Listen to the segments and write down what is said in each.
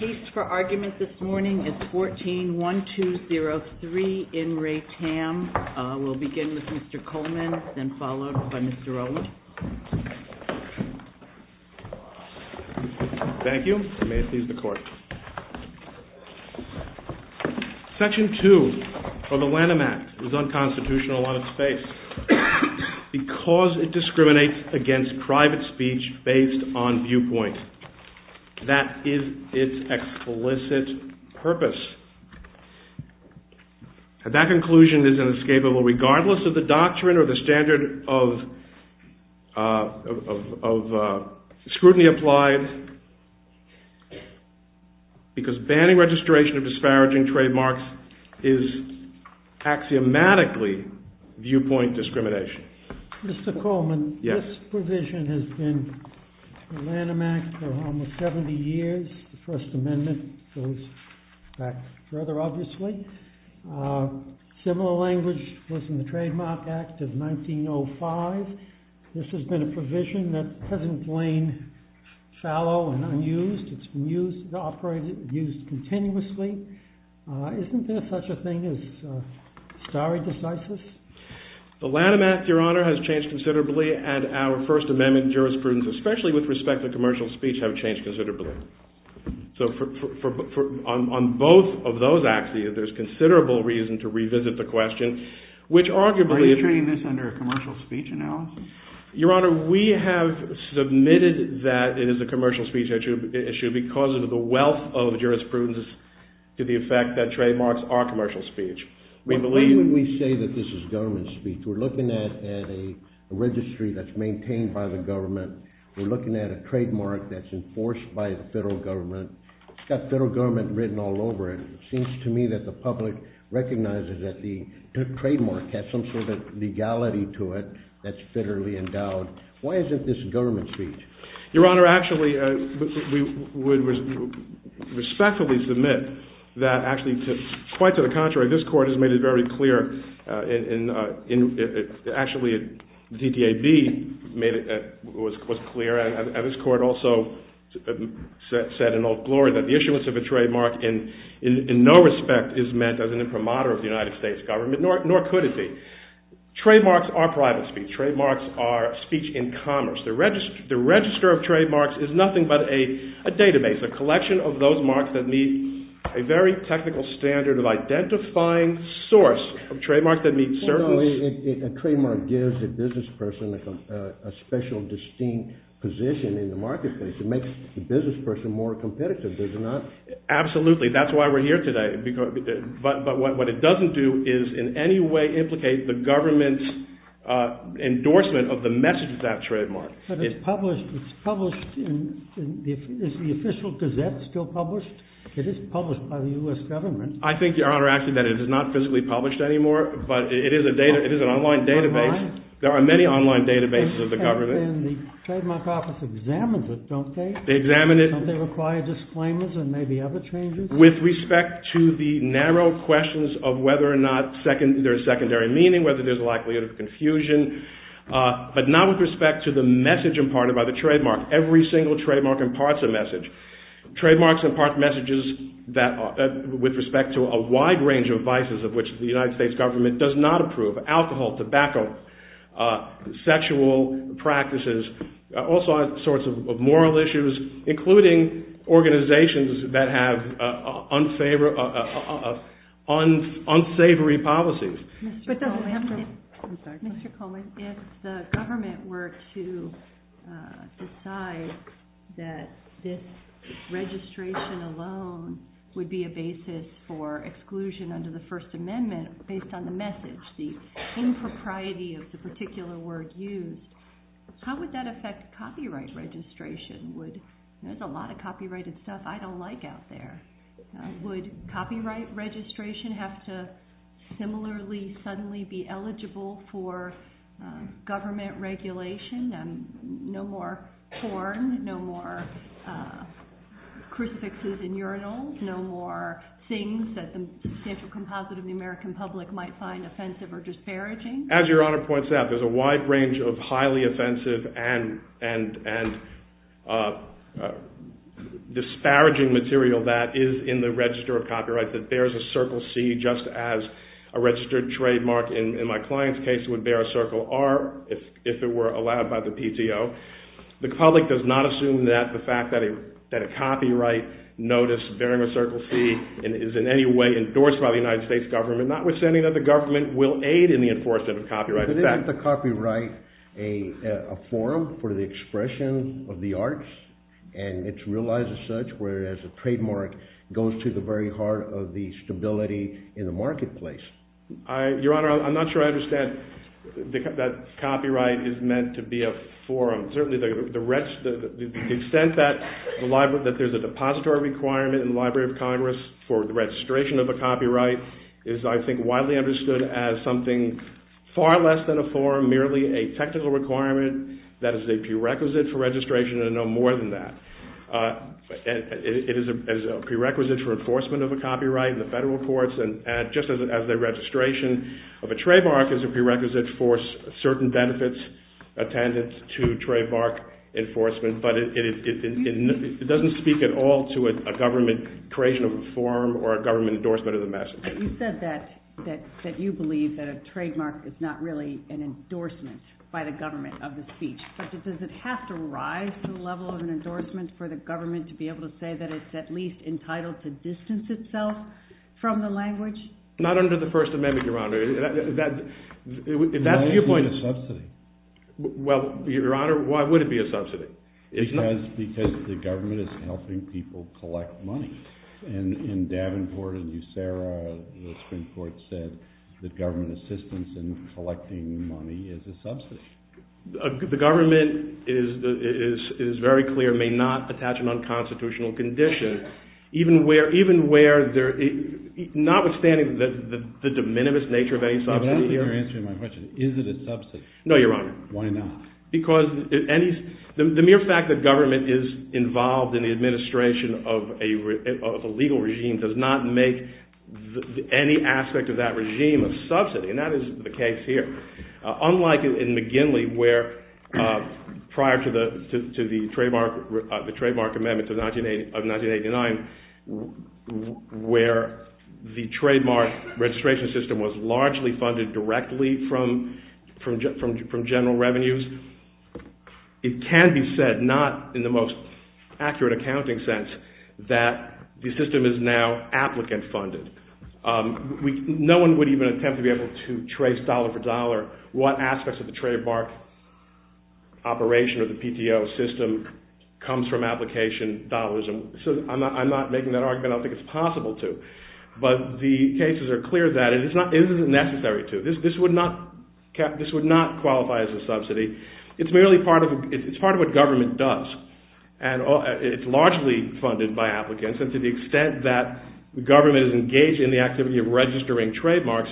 Case for argument this morning is 14-1203 in Re Tam. We'll begin with Mr. Coleman, then followed by Mr. Owens. Thank you. May it please the Court. Section 2 of the Lanham Act is unconstitutional on its face because it discriminates against private speech based on viewpoint. That is its explicit purpose. And that conclusion is inescapable regardless of the doctrine or the standard of scrutiny applied because banning registration of disparaging trademarks is axiomatically viewpoint discrimination. Mr. Coleman, this provision has been in the Lanham Act for almost 70 years. The First Amendment goes back further, obviously. Similar language was in the Trademark Act of 1905. This has been a provision that hasn't been shallow and unused. It's been used continuously. Isn't there such a thing as stare decisis? The Lanham Act, Your Honor, has changed considerably and our First Amendment jurisprudence, especially with respect to commercial speech, has changed considerably. On both of those axes, there's considerable reason to revisit the question, which arguably... Are you treating this under a commercial speech now? Your Honor, we have submitted that it is a commercial speech issue because of the wealth of jurisprudence to the effect that trademarks are commercial speech. Why would we say that this is government speech? We're looking at a registry that's maintained by the government. We're looking at a trademark that's enforced by the federal government. It's got federal government written all over it. It seems to me that the public recognizes that the trademark has some sort of legality to it that's federally endowed. Why isn't this government speech? Your Honor, actually, we would respectfully submit that actually, quite to the contrary, this Court has made it very clear. Actually, DTAB made it clear, and this Court also said in all glory that the issuance of a trademark in no respect is meant as an imprimatur of the United States government, nor could it be. Trademarks are private speech. Trademarks are speech in commerce. The register of trademarks is nothing but a database, a collection of those marks that meet a very technical standard of identifying source of trademarks that meet certain... A trademark gives a business person a special distinct position in the marketplace. It makes the business person more competitive, does it not? Absolutely. That's why we're here today. But what it doesn't do is in any way implicate the government's endorsement of the message of that trademark. But it's published. It's published. Is the official gazette still published? It is published by the U.S. government. I think, Your Honor, actually, that it is not physically published anymore, but it is an online database. There are many online databases of the government. And the trademark office examines it, don't they? They examine it. Don't they require disclaimers and maybe other changes? With respect to the narrow questions of whether or not there's secondary meaning, whether there's a likelihood of confusion, but not with respect to the message imparted by the trademark. Every single trademark imparts a message. Trademarks impart messages with respect to a wide range of vices of which the United States government does not approve. Alcohol, tobacco, sexual practices, all sorts of moral issues, including organizations that have unsavory policies. Mr. Coleman, if the government were to decide that this registration alone would be a basis for exclusion under the First Amendment based on the message, the impropriety of the particular word used, how would that affect copyright registration? There's a lot of copyrighted stuff I don't like out there. Would copyright registration have to similarly suddenly be eligible for government regulation and no more porn, no more crucifixes in urinals, no more things that the central composite of the American public might find offensive or disparaging? As Your Honor points out, there's a wide range of highly offensive and disparaging material that is in the register of copyright that bears a Circle C just as a registered trademark, in my client's case, would bear a Circle R if it were allowed by the PTO. The public does not assume that the fact that a copyright notice bearing a Circle C is in any way endorsed by the United States government, notwithstanding that the government will aid in the enforcement of copyright. Isn't the copyright a forum for the expression of the arts and it's realized as such whereas the trademark goes to the very heart of the stability in the marketplace? Your Honor, I'm not sure I understand that copyright is meant to be a forum. Certainly the extent that there's a depository requirement in the Library of Congress for the registration of a copyright is I think widely understood as something far less than a forum, merely a technical requirement that is a prerequisite for registration and no more than that. It is a prerequisite for enforcement of a copyright in the federal courts and just as the registration of a trademark is a prerequisite for certain benefits attendant to trademark enforcement, but it doesn't speak at all to a government creation of a forum or a government endorsement of the message. You said that you believe that a trademark is not really an endorsement by the government of the speech. Does it have to rise to the level of an endorsement for the government to be able to say that it's at least entitled to distance itself from the language? Not under the First Amendment, Your Honor. Why would it be a subsidy? Well, Your Honor, why would it be a subsidy? Because the government is helping people collect money and in Davenport, in DeSera, the Supreme Court said that government assistance in collecting money is a subsidy. The government is very clear, may not attach an unconstitutional condition even where notwithstanding the de minimis nature of any subsidy. That's not answering my question. Is it a subsidy? No, Your Honor. Why not? Because the mere fact that government is involved in the administration of a legal regime does not make any aspect of that regime a subsidy. And that is the case here. Unlike in McGinley where prior to the trademark amendment of 1989, where the trademark registration system was largely funded directly from general revenues, it can be said, not in the most accurate accounting sense, that the system is now applicant funded. No one would even attempt to trace dollar for dollar what aspects of the trademark operation of the PTO system comes from application dollars. I'm not making that argument, I don't think it's possible to. But the cases are clear that it is necessary to. This would not qualify as a subsidy. It's merely part of what government does. And it's largely funded by applicants. And to the extent that government is engaged in the activity of registering trademarks,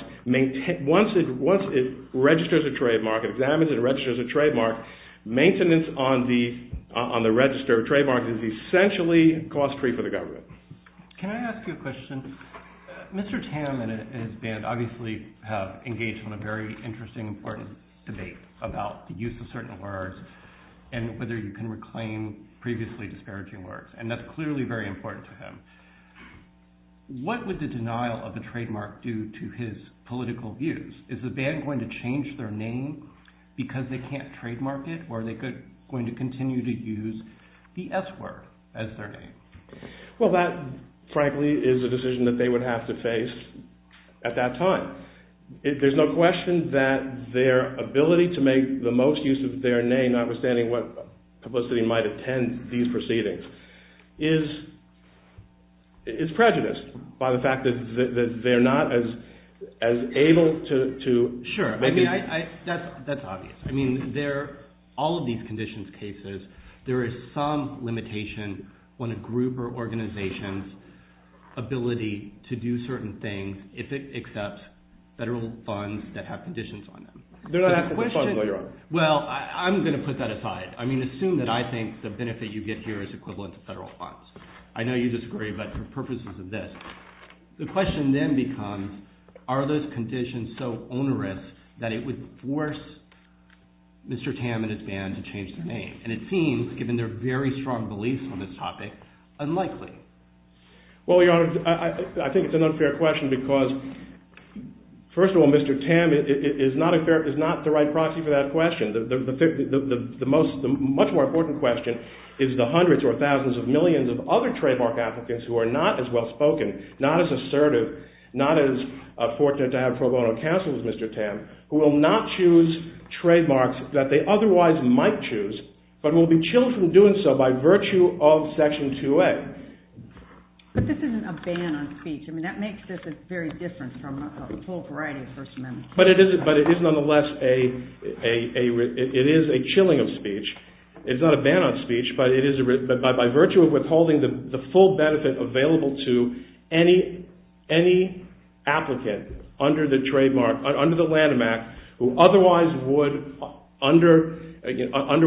once it registers a trademark, examines and registers a trademark, maintenance on the registered trademark is essentially cost free for the government. Can I ask you a question? Mr. Tam and his band obviously have engaged in a very interesting and important debate about the use of certain words and whether you can reclaim previously disparaging words. And that's clearly very important to him. What would the denial of the trademark do to his political views? Is the band going to change their name because they can't trademark it? Or are they going to continue to use the S word as their name? Well, that frankly is a decision that they would have to face at that time. There's no question that their ability to make the most use of their name, notwithstanding what publicity might attend these proceedings, is prejudiced by the fact that they're not as able to... Sure. That's obvious. I mean, all of these conditions cases, there is some limitation on a group or organization's ability to do certain things if it accepts federal funds that have conditions on them. They're not going to fund what you're on. Well, I'm going to put that aside. I mean, assume that I think the benefit you get here is equivalent to federal funds. I know you disagree, but the purpose is this. The question then becomes, are those conditions so onerous that it would force Mr. Tam and his band to change their name? And it seems, given their very strong belief in this topic, unlikely. Well, Your Honor, I think it's an unfair question because first of all, Mr. Tam is not the right proxy for that question. The much more important question is the hundreds or thousands of millions of other trademark applicants who are not as well-spoken, not as assertive, not as fortunate to have pro bono counsel as Mr. Tam, who will not choose trademarks that they otherwise might choose, but will be chilled from doing so by virtue of Section 2A. But this isn't a ban on speech. I mean, that makes this very different from a full variety of personal information. But it is nonetheless a... It is a chilling of speech. It's not a ban on speech, but it is... But by virtue of withholding the full benefit available to any applicant under the trademark, under the Lanham Act, who otherwise would, under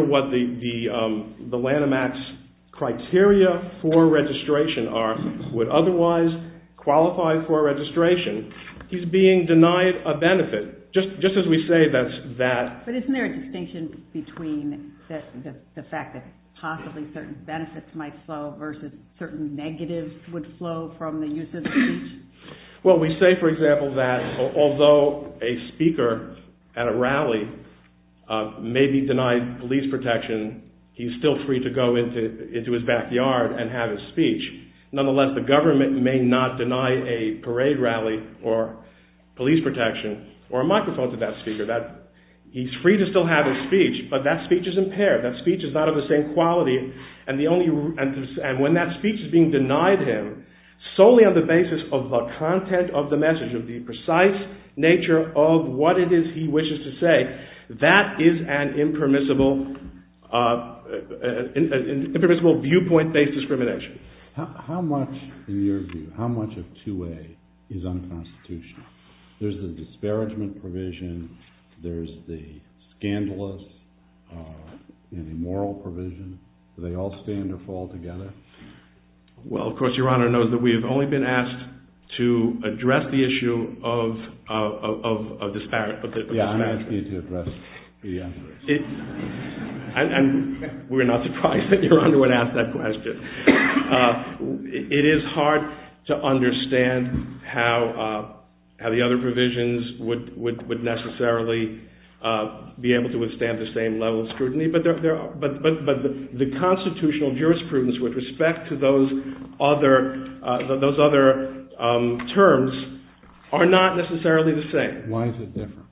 what the Lanham Act's criteria for registration are, would otherwise qualify for registration, he's being denied a benefit. Just as we say that... But isn't there a distinction between the fact that possibly certain benefits might flow versus certain negatives would flow from the use of speech? Well, we say, for example, that although a speaker at a rally may be denied police protection, he's still free to go into his backyard and have his speech. Nonetheless, the government may not deny a parade rally or police protection or a microphone to that speaker. He's free to still have his speech, but that speech is impaired. That speech is not of the same quality. And when that speech is being denied him, solely on the basis of the content of the message, of the precise nature of what it is he wishes to say, that is an impermissible viewpoint-based discrimination. How much, in your view, how much of 2A is unconstitutional? There's the disparagement provision, there's the scandalous immoral provision. Do they all stand or fall together? Well, of course, Your Honor knows that we have only been asked to address the issue of disparagement. Yeah, I'm asking you to address it. And we're not surprised that Your Honor would ask that question. It is hard to understand how the other provisions But the constitutional jurisprudence with respect to those other terms are not necessarily the same. Why is it different?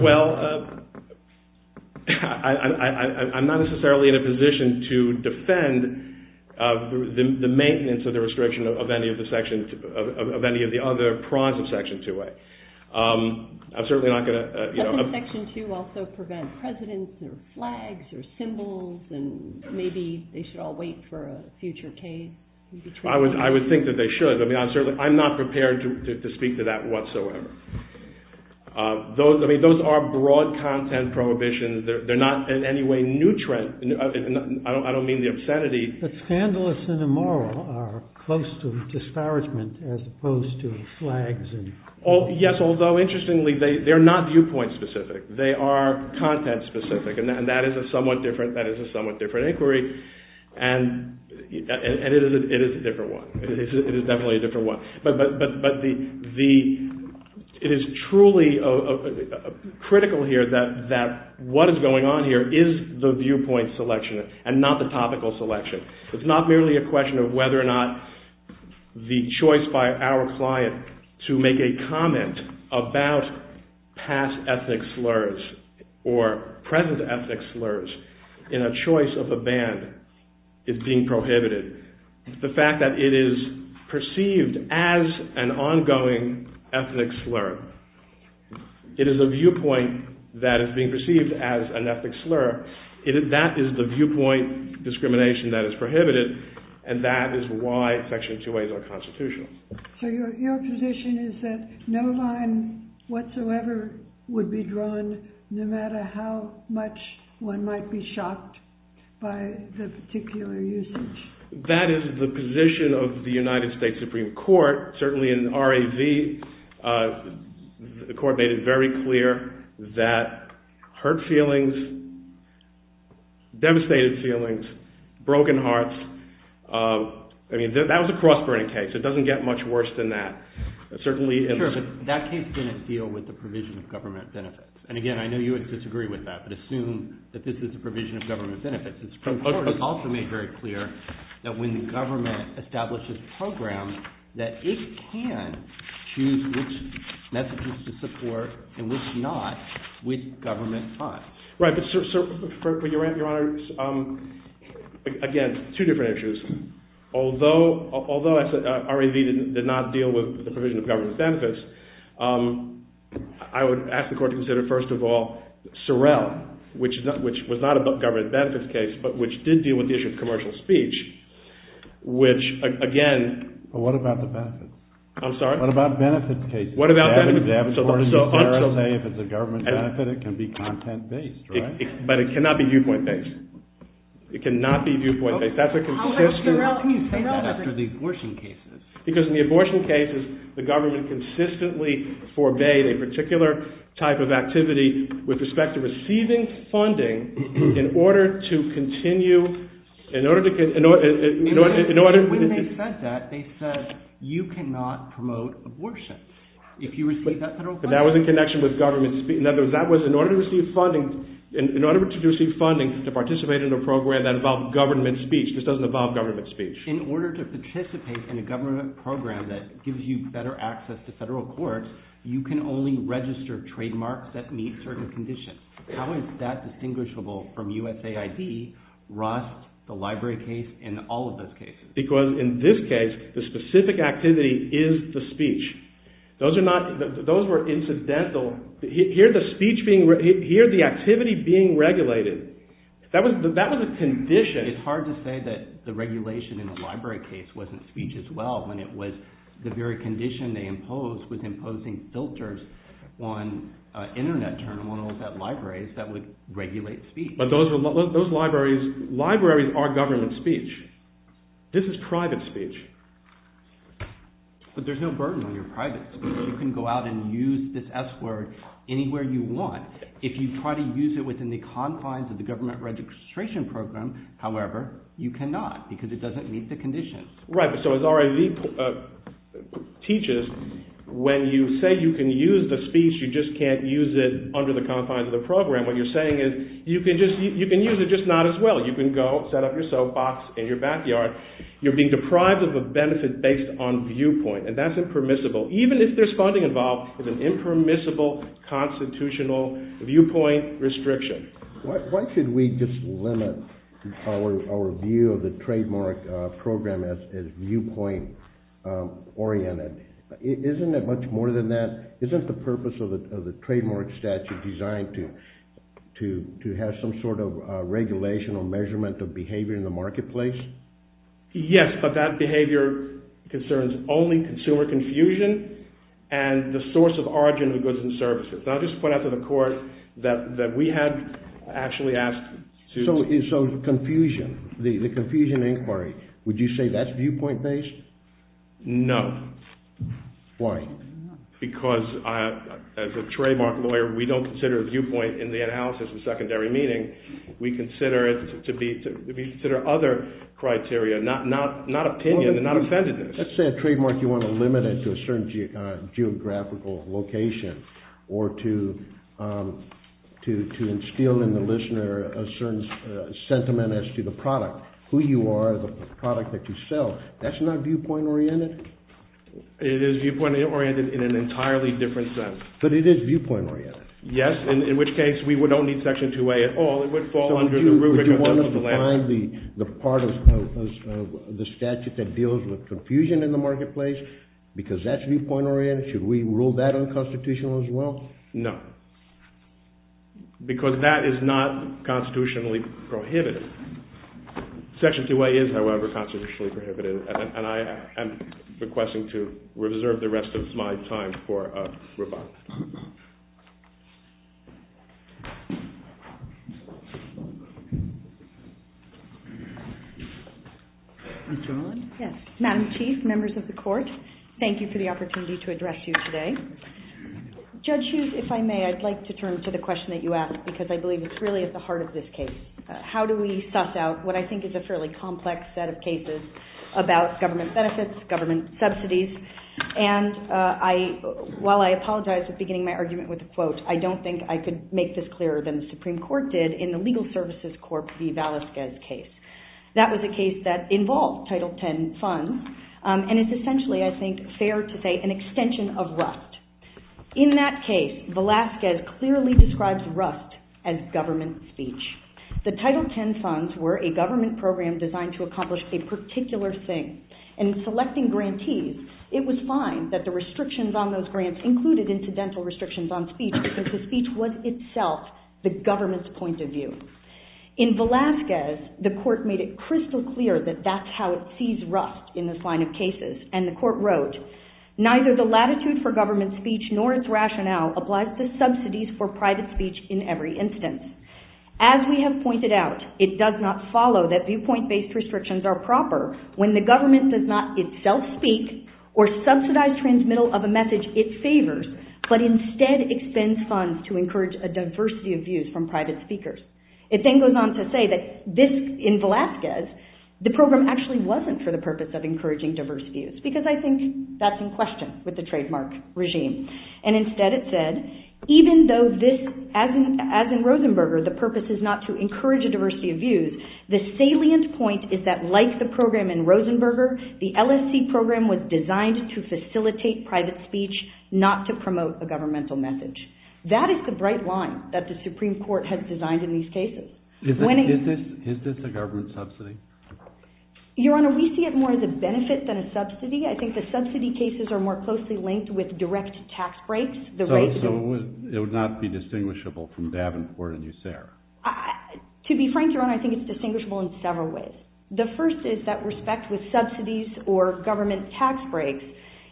Well, I'm not necessarily in a position to defend the maintenance of the restriction of any of the other prongs of Section 2A. I'm certainly not going to... Does Section 2 also prevent precedents or flags or symbols and maybe they should all wait for a future case? I would think that they should. I'm not prepared to speak to that whatsoever. Those are broad content prohibitions. They're not in any way new trends. I don't mean the obscenity. But scandalous and immoral are close to disparagement as opposed to flags and... Yes, although interestingly, they're not viewpoint-specific. They are content-specific, and that is a somewhat different inquiry. And it is a different one. It is definitely a different one. But it is truly critical here that what is going on here is the viewpoint selection and not the topical selection. It's not merely a question of whether or not the choice by our client to make a comment about past ethnic slurs or present ethnic slurs in a choice of a band is being prohibited. It's the fact that it is perceived as an ongoing ethnic slur. It is a viewpoint that is being perceived as an ethnic slur. That is the viewpoint discrimination that is prohibited, and that is why Section 2A is unconstitutional. So your position is that no line whatsoever would be drawn no matter how much one might be shocked by the particular usage? That is the position of the United States Supreme Court, certainly in RAV. The Court made it very clear that hurt feelings, devastated feelings, broken hearts, that was a cross-burning case. It doesn't get much worse than that. That case didn't deal with the provision of government benefits. And again, I know you would disagree with that, but assume that this is a provision of government benefits. The Court also made very clear that when the government establishes programs that it can choose which messages to support and which not with government funds. Again, two different issues. Although RAV did not deal with the provision of government benefits, I would ask the Court to consider, first of all, Sorrell, which was not a government benefits case, but which did deal with the issue of commercial speech, which, again... What about the benefits? I'm sorry? What about benefits cases? What about... But it cannot be viewpoint-based. It cannot be viewpoint-based. Because in the abortion cases, the government consistently forbade a particular type of activity with respect to receiving funding in order to continue... When they said that, they said, you cannot promote abortion if you receive that federal funding. But that was in connection with government speech. In other words, that was in order to receive funding to participate in a program that involved government speech. This doesn't involve government speech. In order to participate in a government program that gives you better access to federal courts, you can only register trademarks that meet certain conditions. How is that distinguishable from USAID, Ross, the library case, and all of those cases? Because in this case, the specific activity is the speech. Those are not... Those were incidental... Here, the speech being... Here, the activity being regulated. That was a condition. It's hard to say that the regulation in the library case wasn't speech as well when it was the very condition they imposed was imposing filters on Internet journals at libraries that would regulate speech. But those libraries are government speech. This is private speech. But there's no burden on your privacy. You can go out and use this S-word anywhere you want. If you try to use it within the confines of the government registration program, however, you cannot, because it doesn't meet the conditions. Right, so as R.A. Lee teaches, when you say you can use the speech, you just can't use it under the confines of the program. What you're saying is you can use it, just not as well. You can go set up your soapbox in your backyard. You're being deprived of a benefit based on viewpoint, and that's impermissible, even if there's funding involved with an impermissible constitutional viewpoint restriction. Why should we just limit our view of the trademark program as viewpoint-oriented? Isn't it much more than that? Isn't the purpose of the trademark statute designed to have some sort of regulational measurement of behavior in the marketplace? Yes, but that behavior concerns only consumer confusion and the source of origin of goods and services. I'll just point out to the court that we have actually asked students... So, confusion, the confusion inquiry, would you say that's viewpoint-based? No. Why? Because as a trademark lawyer, we don't consider viewpoint in the analysis of secondary meaning. We consider it to be... We consider other criteria, not opinion, not appendages. Let's say a trademark, you want to limit it to a certain geographical location or to instill in the listener a certain sentiment as to the product, who you are, the product that you sell. That's not viewpoint-oriented? It is viewpoint-oriented in an entirely different sense. But it is viewpoint-oriented? Yes, in which case we would only section 2A at all. It would fall under the rubric of... Would you want to define the part of the statute that deals with confusion in the marketplace because that's viewpoint-oriented? Should we rule that unconstitutional as well? No. Because that is not constitutionally prohibited. Section 2A is, however, constitutionally prohibited, and I am requesting to reserve the rest of my time for rebuttal. Madam Chief, members of the Court, thank you for the opportunity to address you today. Judge Hughes, if I may, I'd like to turn to the question that you asked because I believe it's really at the heart of this case. How do we suss out what I think is a fairly complex set of cases about government benefits, government subsidies? And while I apologize for beginning my argument with a quote, I don't think I could make this clearer than the Supreme Court did in the Legal Services Court v. Velazquez case. That was a case that involved Title X funds, and it's essentially, I think, fair to say, an extension of Rust. In that case, Velazquez clearly describes Rust as government speech. The Title X funds were a government program designed to accomplish a particular thing, and in selecting grantees, it was fine that the restrictions on those grants included incidental restrictions on speech because the speech was itself the government's point of view. In Velazquez, the Court made it crystal clear that that's how it sees Rust in this line of cases, and the Court wrote, neither the latitude for government speech nor its rationale applies to subsidies for private speech in every instance. As we have pointed out, it does not follow that viewpoint-based restrictions are proper when the government does not itself speak or subsidize transmittal of a message it favors, but instead expends funds to encourage a diversity of views from private speakers. It then goes on to say that this, in Velazquez, the program actually wasn't for the purpose of encouraging diverse views, because I think that's in question with the trademark regime. And instead it said, even though this, as in Rosenberger, the purpose is not to encourage a diversity of views, the salient point is that like the program in Rosenberger, the LSC program was designed to facilitate private speech, not to promote a governmental message. That is the bright line that the Supreme Court has designed in these cases. Is this a government subsidy? Your Honor, we see it more as a benefit than a subsidy. I think the subsidy cases are more closely linked with direct tax breaks. So it would not be distinguishable from Davenport and USERRA. To be frank, Your Honor, I think it's distinguishable in several ways. The first is that respect with subsidies or government tax breaks.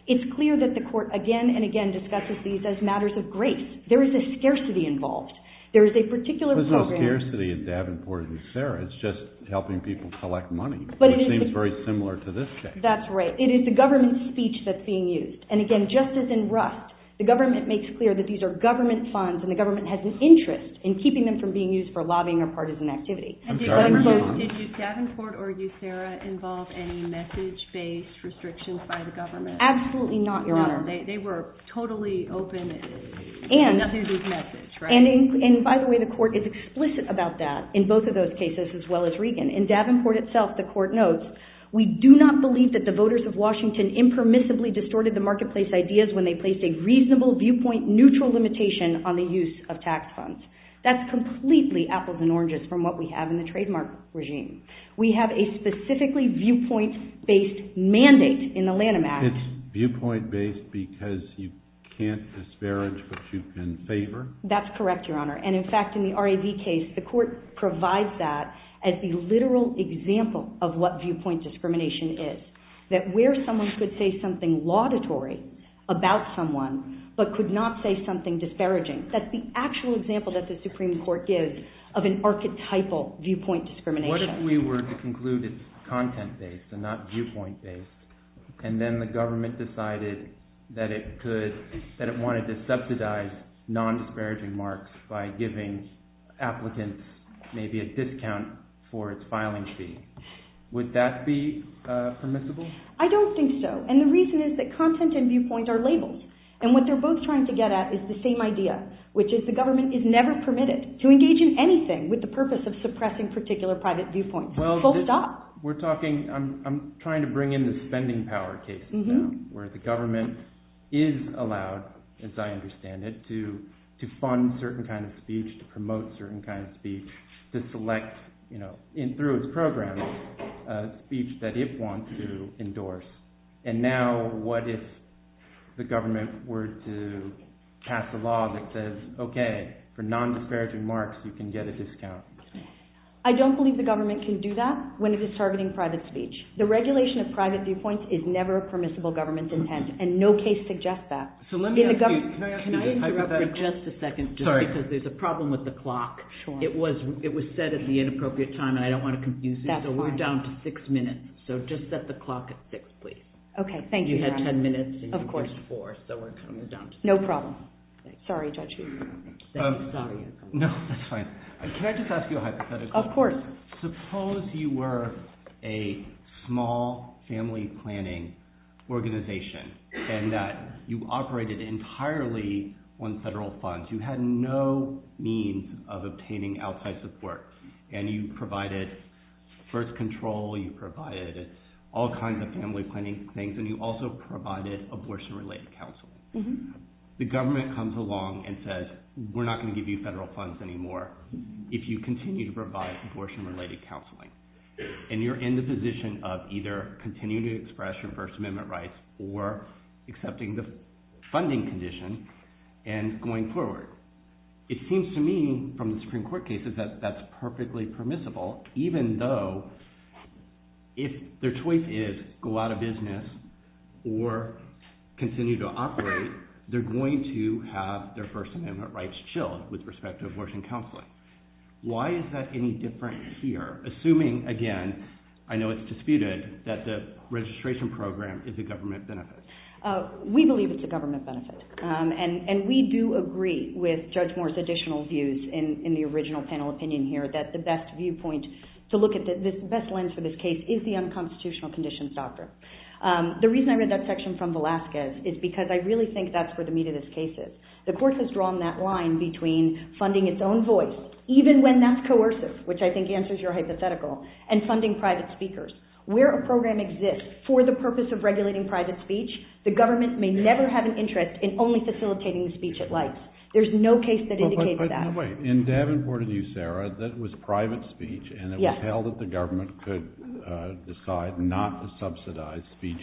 It's clear that the Court again and again discusses these as matters of grace. There is a scarcity involved. There is a particular program... There's no scarcity in Davenport and USERRA. It's just helping people collect money, which seems very similar to this case. That's right. It is the government speech that's being used. And again, just as in Rust, the government makes clear that these are government funds and the government has an interest in keeping them from being used for lobbying or partisan activity. And does Davenport or USERRA involve any message-based restrictions by the government? Absolutely not, Your Honor. They were totally open to these messages, right? And by the way, the Court is explicit about that in both of those cases as well as Regan. In Davenport itself, the Court notes, we do not believe that the voters of Washington impermissibly distorted the marketplace ideas when they placed a reasonable viewpoint neutral limitation on the use of tax funds. That's completely apples and oranges from what we have in the trademark regime. We have a specifically viewpoint-based mandate in the Lanham Act. It's viewpoint-based because you can't disparage what you can favor? That's correct, Your Honor. And in fact, in the RAB case, the Court provides that as a literal example of what viewpoint discrimination is, that where someone could say something laudatory about someone but could not say something disparaging. That's the actual example that the Supreme Court gives of an archetypal viewpoint discrimination. What if we were to conclude it's content-based and not viewpoint-based and then the government decided that it wanted to subsidize nondisparaging marks by giving applicants maybe a discount for its filing fee? Would that be permissible? I don't think so. And the reason is that content and viewpoint are labels. And what they're both trying to get at is the same idea, which is the government is never permitted to engage in anything with the purpose of suppressing particular private viewpoints. Folks stop. We're talking, I'm trying to bring in the spending power case now, where the government is allowed, as I understand it, to fund certain kinds of speech, to promote certain kinds of speech, to select through its programming a speech that it wants to endorse. And now what if the government were to pass a law that says, okay, for nondisparaging marks you can get a discount? I don't believe the government can do that when it is targeting private speech. The regulation of private viewpoints is never a permissible government's intent and no case suggests that. So let me ask you, can I interrupt for just a second, just because there's a problem with the clock. It was set at the inappropriate time and I don't want to confuse you, but we're down to six minutes. So just set the clock at six, please. Okay, thank you. You had 10 minutes. Of course. No problem. Sorry, Judge. No, that's fine. Can I just ask you a hypothetical? Of course. Suppose you were a small family planning organization and that you operated entirely on federal funds. You had no means of obtaining outside support and you provided birth control, you provided all kinds of family planning things and you also provided abortion-related counseling. The government comes along and says, we're not going to give you federal funds anymore if you continue to provide abortion-related counseling. And you're in the position of either continuing to express your First Amendment rights or accepting the funding condition and going forward. It seems to me from the Supreme Court cases that that's perfectly permissible, even though if their choice is go out of business or continue to operate, they're going to have their First Amendment rights chilled with respect to abortion counseling. Why is that any different here? Assuming, again, I know it's disputed, that the registration program is a government benefit. We believe it's a government benefit. And we do agree with Judge Moore's additional views in the original panel opinion here that the best viewpoint to look at, the best lens for this case is the unconstitutional conditions doctrine. The reason I read that section from Velazquez is because I really think that's where the meat of this case is. The court has drawn that line between funding its own voice, even when that's coercive, which I think answers your hypothetical, and funding private speakers. Where a program exists for the purpose of regulating private speech, the government may never have an interest in only facilitating the speech it likes. There's no case that indicates that. In Davenport v. Sarah, that was private speech, and it was held that the government could decide not to subsidize speech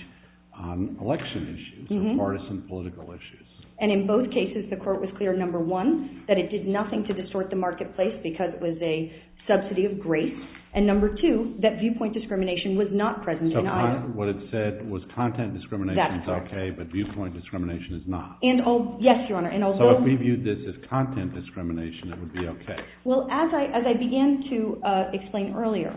on election issues, or partisan political issues. And in both cases, the court was clear, number one, that it did nothing to distort the marketplace because it was a subsidy of grace, and number two, that viewpoint discrimination was not present in either. So what it said was content discrimination is okay, but viewpoint discrimination is not. So if we viewed this as content discrimination, it would be okay? Well, as I began to explain earlier,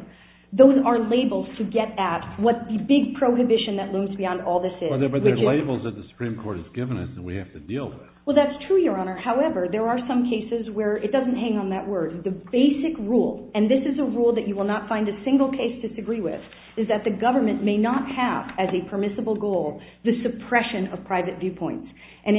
those are labels to get at what the big prohibition that looms beyond all this is. But they're labels that the Supreme Court has given us that we have to deal with. Well, that's true, Your Honor. However, there are some cases where it doesn't hang on that word. The basic rule, and this is a rule that you will not find a single case to disagree with, is that the government may not have, as a permissible goal, the suppression of private viewpoints. And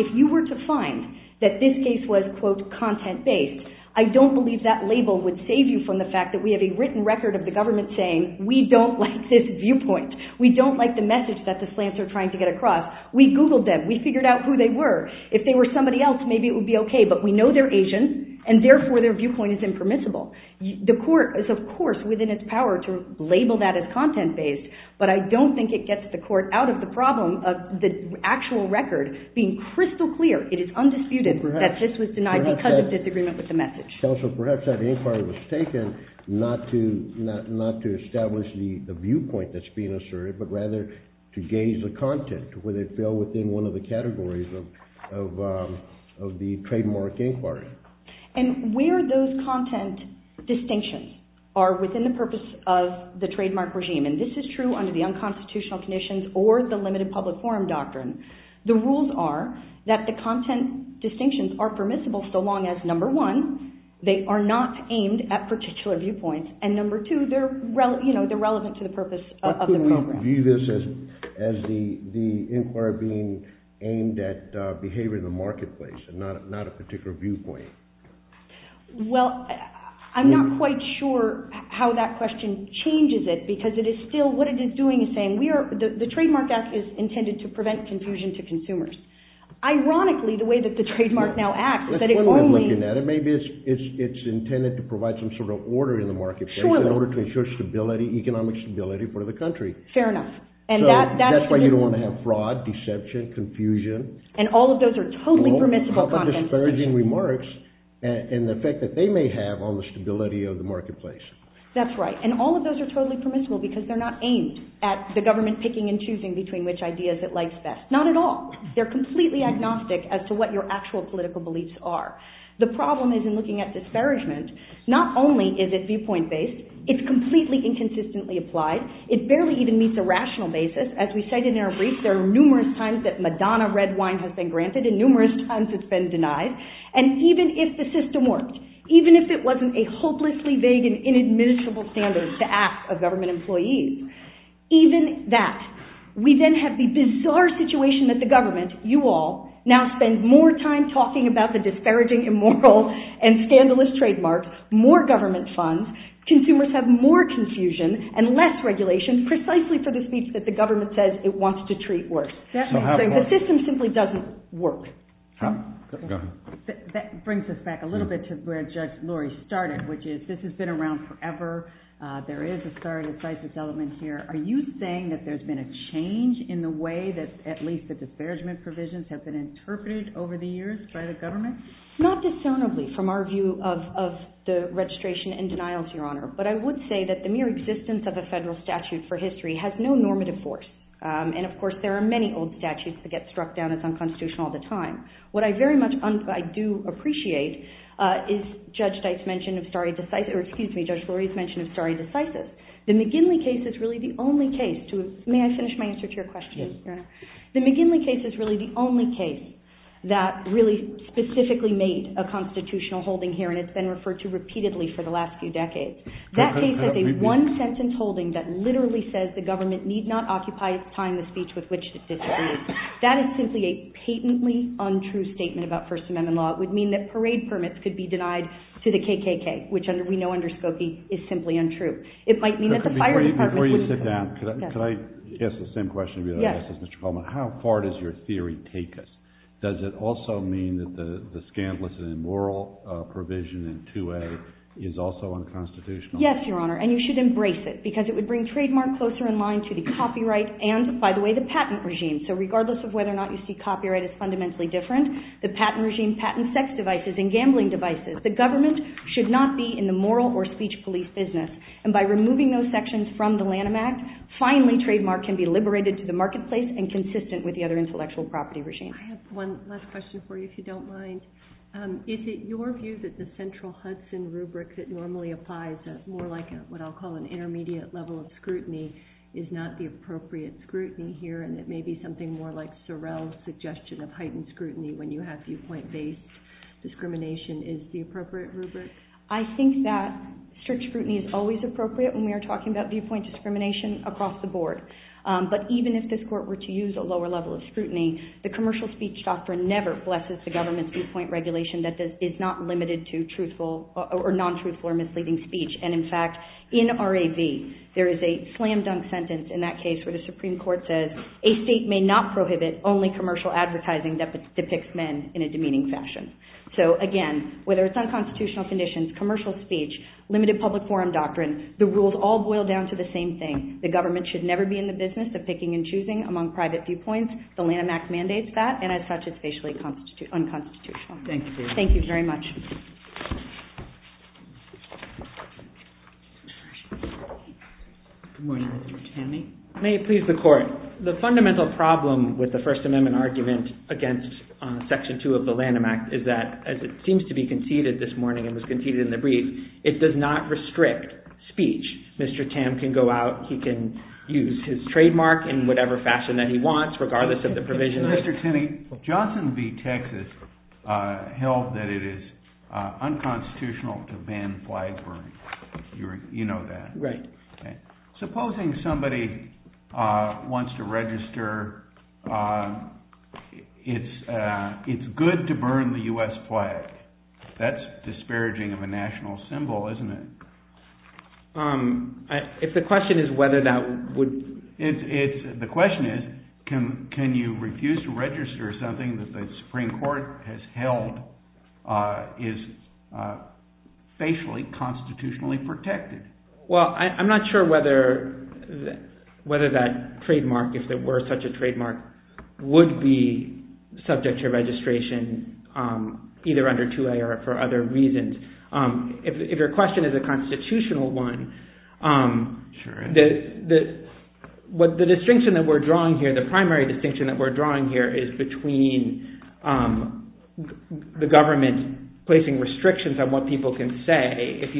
if you were to find that this case was, quote, content-based, I don't believe that label would save you from the fact that we have a written record of the government saying, we don't like this viewpoint. We don't like the message that the slants are trying to get across. We Googled them. We figured out who they were. If they were somebody else, maybe it would be okay, but we know they're Asian, and therefore their viewpoint is impermissible. The court is, of course, within its power to label that as content-based, but I don't think it gets the court out of the problem of the actual record being crystal clear. It is undisputed that this was denied because of disagreement with the message. Perhaps that inquiry was taken not to establish the viewpoint that's being asserted, but rather to gauge the content when it fell within one of the categories of the trademark inquiry. And where those content distinctions are within the purpose of the trademark regime, and this is true under the unconstitutional conditions or the limited public forum doctrine, the rules are that the content distinctions are permissible so long as, number one, they are not aimed at particular viewpoints, and number two, they're relevant to the purpose of the program. How could we view this as the inquiry being aimed at behavior in the marketplace and not a particular viewpoint? Well, I'm not quite sure how that question changes it because it is still, what it is doing is saying the Trademark Act is intended to prevent confusion to consumers. Ironically, the way that the trademark now acts, that it only... Let's look at it. Maybe it's intended to provide some sort of order in the marketplace in order to ensure stability, economic stability for the country. Fair enough. So that's why you don't want to have fraud, deception, confusion. And all of those are totally permissible content. No public disparaging remarks and the effect that they may have on the stability of the marketplace. That's right. And all of those are totally permissible because they're not aimed at the government picking and choosing between which ideas it likes best. Not at all. They're completely agnostic as to what your actual political beliefs are. The problem is in looking at disparagement. Not only is it viewpoint-based, it's completely inconsistently applied. It barely even meets a rational basis. As we cited in our brief, there are numerous times that Madonna red wine has been granted and numerous times it's been denied. And even if the system worked, even if it wasn't a hopelessly vague and inadmissible standard to ask of government employees, even that, we then have the bizarre situation that the government, you all, now spend more time talking about the disparaging, immoral, and scandalous trademarks, more government funds, consumers have more confusion and less regulation precisely for the speech that the government says it wants to treat worse. So the system simply doesn't work. That brings us back a little bit to where Judge Laurie started, which is this has been around forever. There is a stare decisis element here. Are you saying that there's been a change in the way that at least the disparagement provisions have been interpreted over the years by the government? Not dissonantly from our view of the registration and denials, Your Honor, but I would say that the mere existence of a federal statute for history has no normative force. And of course, there are many old statutes that get struck down as unconstitutional all the time. What I very much, I do appreciate, is Judge Dyke's mention of stare decisis, or excuse me, Judge Laurie's mention of stare decisis. The McGinley case is really the only case, may I finish my answer to your question, Your Honor? The McGinley case is really the only case that really specifically made a constitutional holding here and it's been referred to repeatedly for the last few decades. That case is a one-sentence holding that literally says the government need not occupy its time in the speech with which it disagrees. That is simply a patently untrue statement about First Amendment law. It would mean that parade permits could be denied to the KKK, which we know under Skokie is simply untrue. It might mean that the fire department... Before you sit down, can I ask the same question to you, Justice McClellan? Yes. How far does your theory take us? Does it also mean that the scandalous and immoral provision in 2A is also unconstitutional? Yes, Your Honor, and you should embrace it because it would bring trademark closer in line to the copyright and, by the way, the patent regime. So regardless of whether or not you see copyright as fundamentally different, the patent regime, patent sex devices, and gambling devices, the government should not be in the moral or speech belief business. And by removing those sections from the Lanham Act, finally trademark can be liberated to the marketplace and consistent with the other intellectual property regime. I have one last question for you, if you don't mind. Is it your view that the central Hudson rubric that normally applies as more like what I'll call an intermediate level of scrutiny is not the appropriate scrutiny here and that maybe something more like Sorrell's suggestion of heightened scrutiny when you have viewpoint-based discrimination is the appropriate rubric? I think that strict scrutiny is always appropriate when we are talking about viewpoint discrimination across the board. But even if this court were to use a lower level of scrutiny, the commercial speech doctrine never flexes the government's viewpoint regulation that is not limited to truthful or non-truthful or misleading speech. And, in fact, in RAV, there is a slam-dunk sentence in that case where the Supreme Court says a state may not prohibit only commercial advertising that depicts men in a demeaning fashion. So, again, whether it's unconstitutional conditions, commercial speech, limited public forum doctrine, the rules all boil down to the same thing. The government should never be in the business of picking and choosing among private viewpoints. The Lanham Act mandates that and, as such, it's facially unconstitutional. Thank you. Thank you very much. Good morning, Judge Hanley. May it please the Court. The fundamental problem with the First Amendment argument against Section 2 of the Lanham Act is that, as it seems to be conceded this morning and was conceded in the brief, it does not restrict speech. Mr. Tan can go out, he can use his trademark in whatever fashion that he wants, regardless of the provision. Mr. Tinney, Johnson v. Texas held that it is unconstitutional to ban flag burning. You know that. Right. Supposing somebody wants to register, it's good to burn the U.S. flag. That's disparaging of a national symbol, isn't it? If the question is whether that would... The question is, can you refuse to register something that the Supreme Court has held is facially, constitutionally protected? Well, I'm not sure whether that trademark, if it were such a trademark, would be subject to registration either under 2A or for other reasons. If your question is a constitutional one, the distinction that we're drawing here, the primary distinction that we're drawing here is between the government placing restrictions on what people can say. If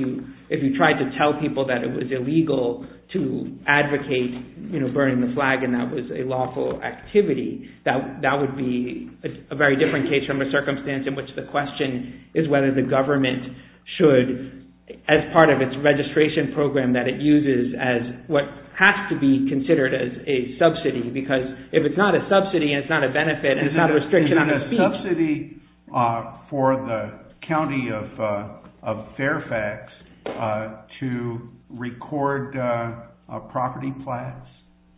you tried to tell people that it was illegal to advocate burning the flag and that was a lawful activity, that would be a very different case from a circumstance in which the question is whether the government should, as part of its registration program that it uses as what has to be considered as a subsidy because if it's not a subsidy and it's not a benefit and it's not a restriction on speech... Is it a subsidy for the county of Fairfax to record property flats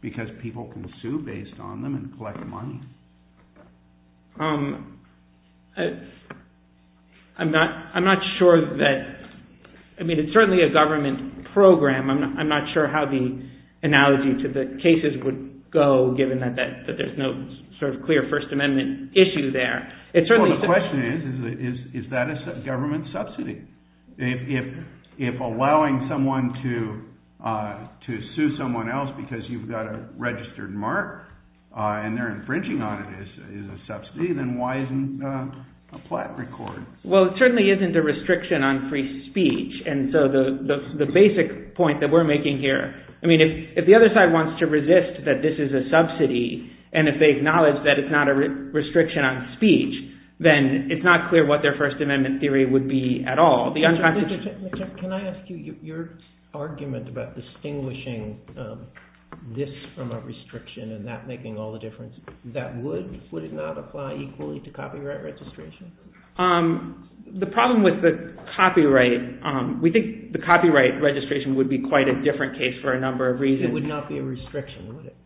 because people can sue based on them and collect money? I'm not sure that... I mean, it's certainly a government program. I'm not sure how the analogy to the cases would go given that there's no sort of clear First Amendment issue there. The question is, is that a government subsidy? If allowing someone to sue someone else because you've got a registered mark and they're infringing on it, is a subsidy, then why isn't a flat recorded? Well, it certainly isn't a restriction on free speech and so the basic point that we're making here, I mean, if the other side wants to resist that this is a subsidy and if they acknowledge that it's not a restriction on speech, then it's not clear what their First Amendment theory would be at all. Can I ask you, your argument about distinguishing this from a restriction and that making all the difference that would, would it not apply equally to copyright registration? The problem with the copyright, we think the copyright registration would be quite a different case for a number of reasons. It would not be a restriction, would it?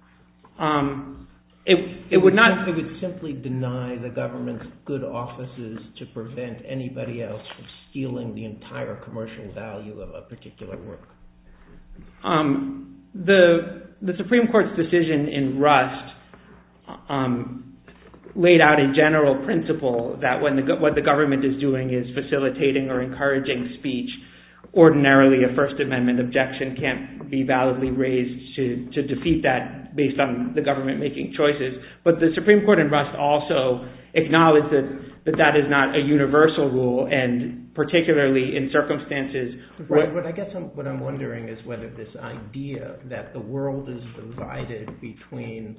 It would not. It would simply deny the government's good offices to prevent anybody else from stealing the entire commercial value of a particular work. The Supreme Court's decision in Rust laid out a general principle that what the government is doing is facilitating or encouraging speech. Ordinarily, a First Amendment objection can't be validly raised to defeat that based on the government making choices. But the Supreme Court in Rust also acknowledges that that is not a universal rule and particularly in circumstances. I guess what I'm wondering is whether this idea that the world is divided between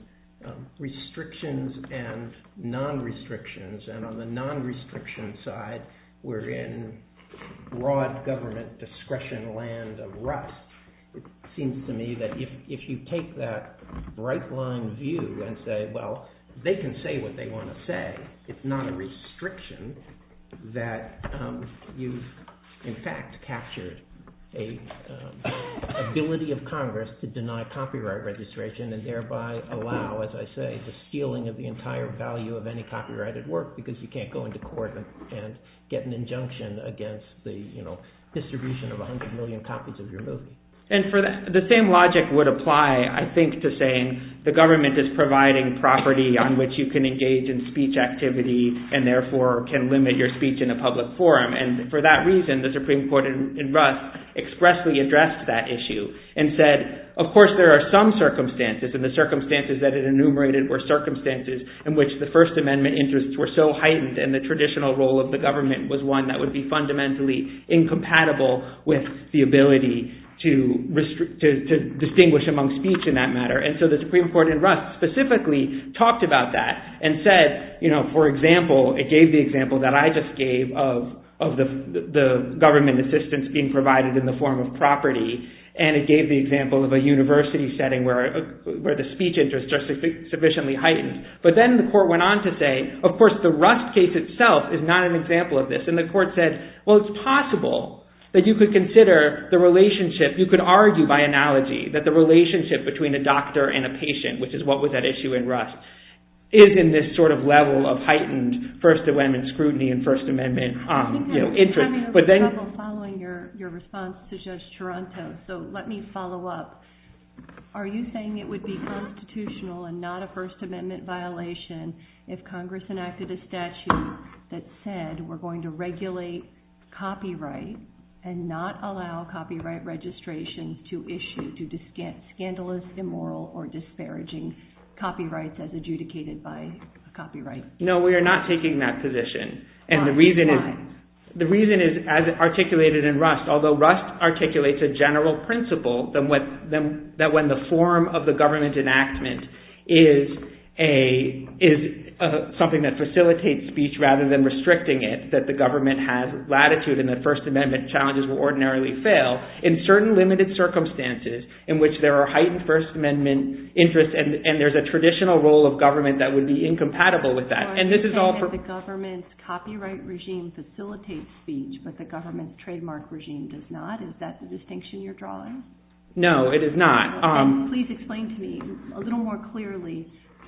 restrictions and non-restrictions and on the non-restriction side we're in broad government discretion land of Rust. It seems to me that if you take that right-line view and say, well, they can say what they want to say. It's not a restriction that you've in fact captured an ability of Congress to deny copyright registration and thereby allow, as I say, the stealing of the entire value of any copyrighted work because you can't go into court and get an injunction against the distribution of 100 million copies of your movie. The same logic would apply I think to saying the government is providing property on which you can engage in speech activity and therefore can limit your speech in a public forum. For that reason, the Supreme Court in Rust expressly addressed that issue and said, of course, there are some circumstances and the circumstances that it enumerated were circumstances in which the First Amendment interests were so heightened and the traditional role of the government was one that would be fundamentally incompatible with the ability to distinguish among speech in that matter and so the Supreme Court in Rust specifically talked about that and said, for example, it gave the example that I just gave of the government assistance being provided in the form of property and it gave the example of a university setting where the speech interest just sufficiently heightened but then the court went on to say, of course, the Rust case itself is not an example of this and the court said, well, it's possible that you could consider the relationship, you could argue by analogy that the relationship between a doctor and a patient which is what was at issue in Rust is in this sort of level of heightened First Amendment scrutiny and First Amendment interest. But then... I'm having trouble following your response to Judge Toronto so let me follow up. Are you saying it would be constitutional and not a First Amendment violation if Congress enacted a statute that said we're going to regulate copyright and not allow copyright registration to issue due to scandalous, immoral, or disparaging copyright as adjudicated by copyright? No, we are not taking that position. We are not taking that position. And the reason is as articulated in Rust, although Rust articulates a general principle that when the form of the government enactment is something that facilitates speech rather than restricting it, that the government has latitude and that First Amendment challenges will ordinarily fail in certain in which there are heightened First Amendment interests and there's a traditional role of government that would be incompatible with that. And this is all for... Are you saying that the government's copyright regime facilitates speech but the government's trademark regime does not? Is that the distinction you're drawing? No, it is not. Can you please explain to me a little more clearly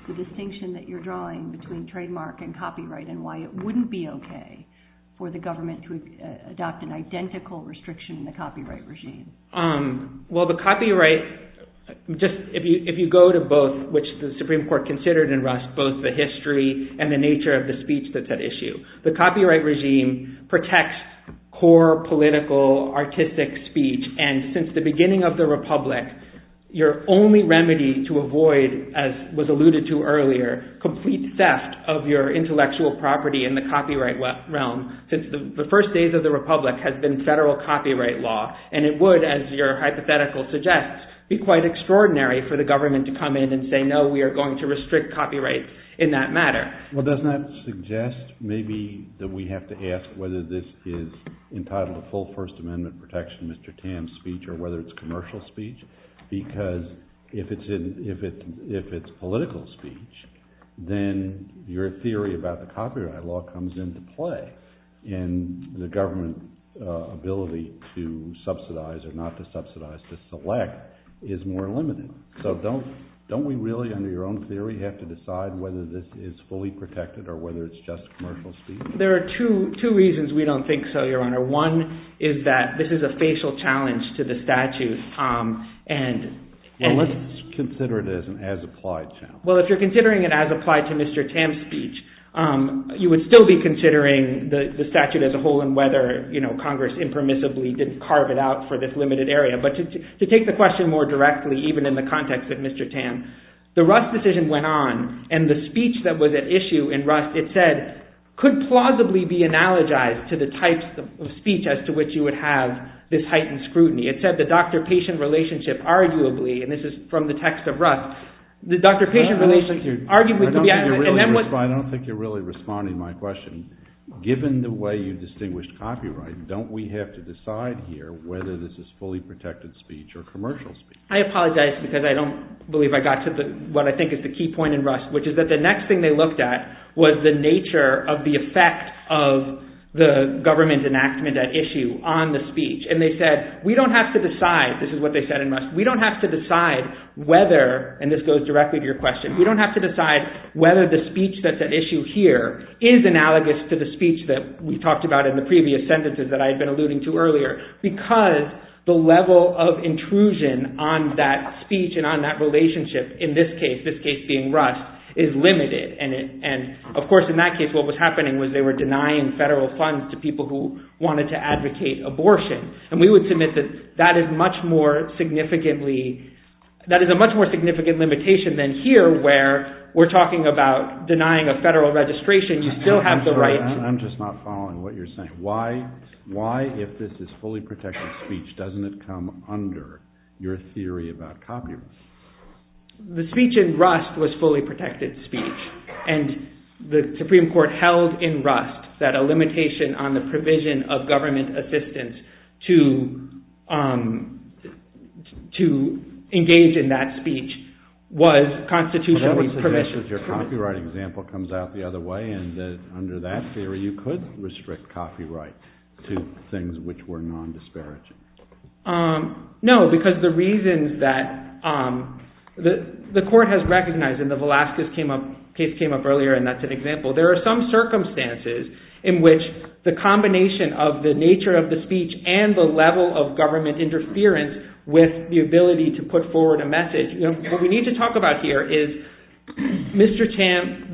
the distinction that you're drawing between trademark and copyright and why it wouldn't be okay for the government to adopt an identical restriction in the copyright regime? Well, the copyright... If you go to both, which the Supreme Court considered in Rust, both the history and the nature of the speech that's at issue, the copyright regime protects core, political, artistic speech and since the beginning of the Republic, your only remedy to avoid, as was alluded to earlier, complete theft of your intellectual property in the copyright realm since the first days of the Republic has been federal copyright law and it would, as your hypothetical suggests, be quite extraordinary for the government to come in and say, no, we are going to restrict copyright in that matter. Well, doesn't that suggest maybe that we have to ask whether this is entitled full First Amendment protection Mr. Tam's speech or whether it's commercial speech because if it's political speech, then your theory about the copyright law comes into play and the government ability to subsidize or not to subsidize to select is more limited. So, don't we really, under your own theory, have to decide whether this is fully protected or whether it's just commercial speech because there are two reasons we don't think so, Your Honor. One is that this is a facial challenge to the statute and... Let's consider it as an as-applied term. Well, if you're considering it as applied to Mr. Tam's speech, you would still be considering the statute as a whole and whether Congress impermissibly didn't carve it out for this limited area but to take the question more directly even in the context of Mr. Tam, the Rust decision went on and the speech that was at issue in Rust, it said, could plausibly be analogized to the types of speech as to which you would have this heightened scrutiny. It said, the doctor-patient relationship arguably, and this is from the text of Rust, the doctor-patient relationship arguably could be... I don't think you're really responding to my question. Given the way you distinguished copyright, don't we have to decide here whether this is fully protected speech or commercial speech? I apologize because I don't believe I got to what I think is the key point in Rust which is that the next thing they looked at was the nature of the effect of the government enactment at issue on the speech and they said, we don't have to decide, this is what they said in Rust, we don't have to decide whether, and this goes directly to your question, we don't have to decide whether the speech that's at issue here is analogous to the speech that we talked about in the previous sentences that I had been alluding to earlier because the level of intrusion on that speech and on that relationship in this case, this case being Rust, is limited and of course in that case what was happening was they were denying federal funds to people who wanted to advocate abortion and we would submit that that is much more significantly, that is a much more significant limitation than here where we're talking about denying a federal registration, you still have the right to vote. I'm just not following what you're saying. Why, why if this is fully protected speech doesn't it come under your theory about Congress? The speech in Rust was fully protected speech and the Supreme Court that a limitation on the provision of government assistance in that speech was constitutional provisions. I don't suggest that your copyright example comes out the other way and that under that case it would be a violation of the Constitution or you could restrict copyright to things which were non-disparaging. No, because the reason that the court has recognized and the Velazquez case came up earlier and that's an example. There are some circumstances in which the combination of the nature of the speech and the level of government interference with the ability to put forward a message. What we need to talk about here is Mr. Chan,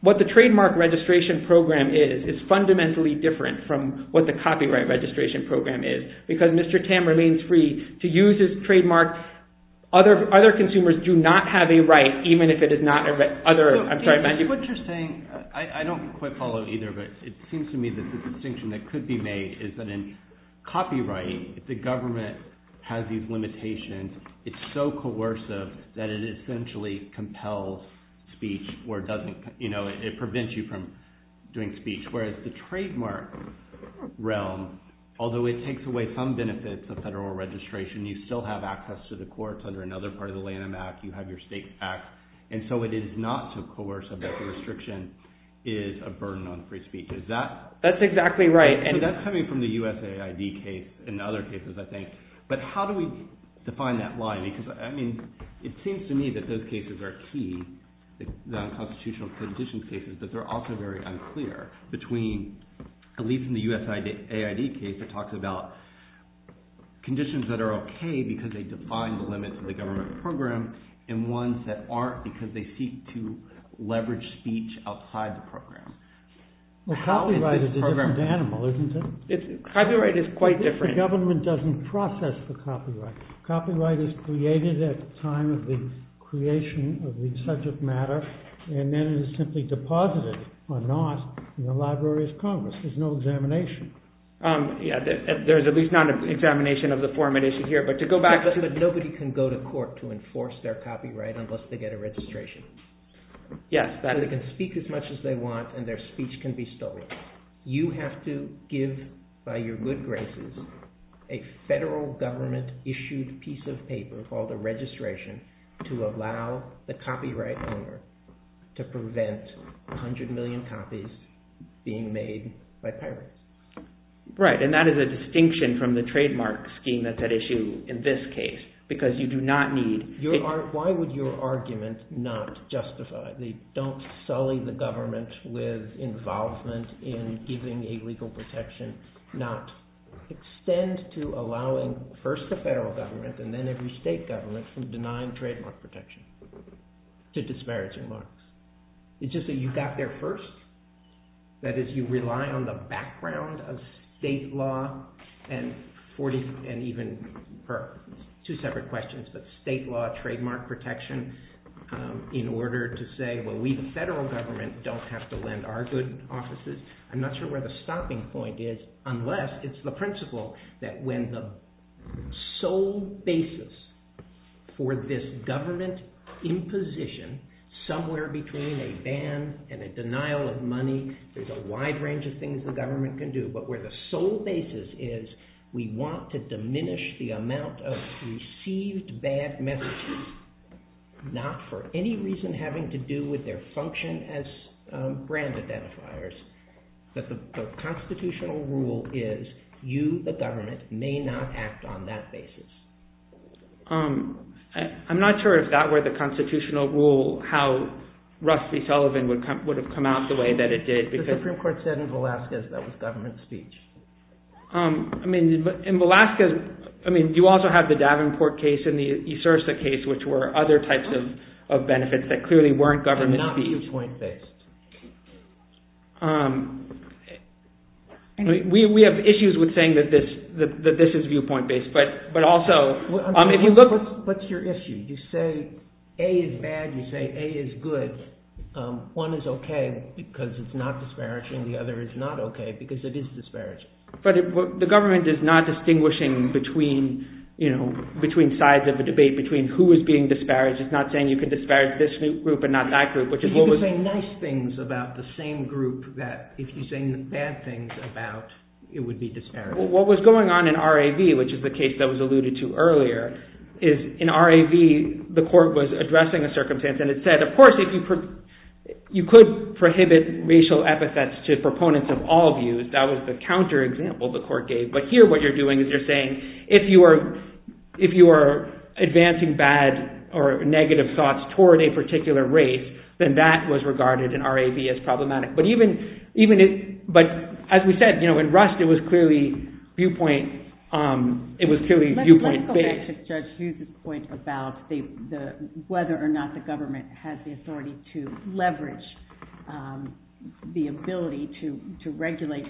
what the trademark registration program is, is fundamentally different from what the copyright registration program is because Mr. Tam remains free to use his trademark. Other consumers do not have a right even if it is not other, I'm sorry, mind you. What you're saying, I don't quite follow either, but it seems to me that the distinction that could be made is that in copyright the government has these limitations. It's so coercive that it essentially compels speech or it doesn't, you know, it prevents you from doing speech whereas the trademark realm, although it takes away some benefits of federal registration, you still have access to the courts under another part of the Lanham Act, you have your state act and so it is not so coercive that the restriction is a burden on free speech. Is that? That's exactly right. And that's coming from the USAID case and other cases I think, but how do we define that line because I mean, it seems to me that those cases are key, the constitutional conditions cases but they're also very unclear between, at least in the USAID case it talks about conditions that are okay because they define the limits of the government program and ones that aren't because they seek to leverage speech outside the program. Copyright is a different animal, isn't it? Copyright is quite different. The government doesn't process the copyright. Copyright is created at the time of the creation of the subject matter and then it is simply deposited or not in the library's columns. There's no examination. Yeah, there's at least not an examination of the format issue here but to go back to the... Nobody can go to court to enforce their copyright unless they get a registration. Yes. They can speak as much as they want and their speech can be stolen. You have to give by your good graces a federal government issued piece of paper called a registration to allow the copyright owner to prevent 100 million copies being made by pirates. Right, and that is a distinction from the trademark scheme that's at issue in this case because you do not need... Why would your argument not justify? Don't sully the government with involvement in giving a legal protection not extend to allowing first the federal government and then every state government from denying trademark protection. To disparaging law. It's just that you got there first. That is you rely on the background of state law and even two separate questions but state law trademark protection in order to say well we the federal government don't have to lend our good offices. I'm not sure where the stopping point is unless it's the principle that when the sole basis for this government imposition somewhere between a ban and a denial of money is a wide range of things the government can do but where the sole basis is we want to diminish the amount of received bad messages not for any reason having to do with their function as brand identifiers but the constitutional rule is you the government may not act on that basis. I'm not sure if that were the constitutional rule how Rusty Sullivan would have come out the way that it did. The Supreme Court said in Velasquez that was government speech. I mean in Velasquez I mean you also have the Davenport case and the Esursa case which were other types of benefits that clearly weren't government speech. Not viewpoint based. We have issues with saying that this is viewpoint based but also if you look What's your issue? You say A is bad you say A is good one is okay because it's not disparaging the other is not okay because it is disparaging. But the government is not distinguishing between you know between sides of the debate between who is being disparaged it's not saying you can disparage this group and not that group which is what was You can say nice things about the same group that if you say bad things about it would be disparaging. What was going on in R.A.V. which is the case that was alluded to earlier is in R.A.V. the court was addressing a circumstance and it said of course you could prohibit racial epithets to proponents of all views that was the counter example the court gave but here what you're doing is you're saying if you are advancing bad or negative thoughts toward a particular race then that was regarded in R.A.V. as problematic but even but as we said in Rust it was clearly viewpoint it was clearly viewpoint based. I want to get to Judge Hughes's point about whether or not the government has the authority to leverage the ability to regulate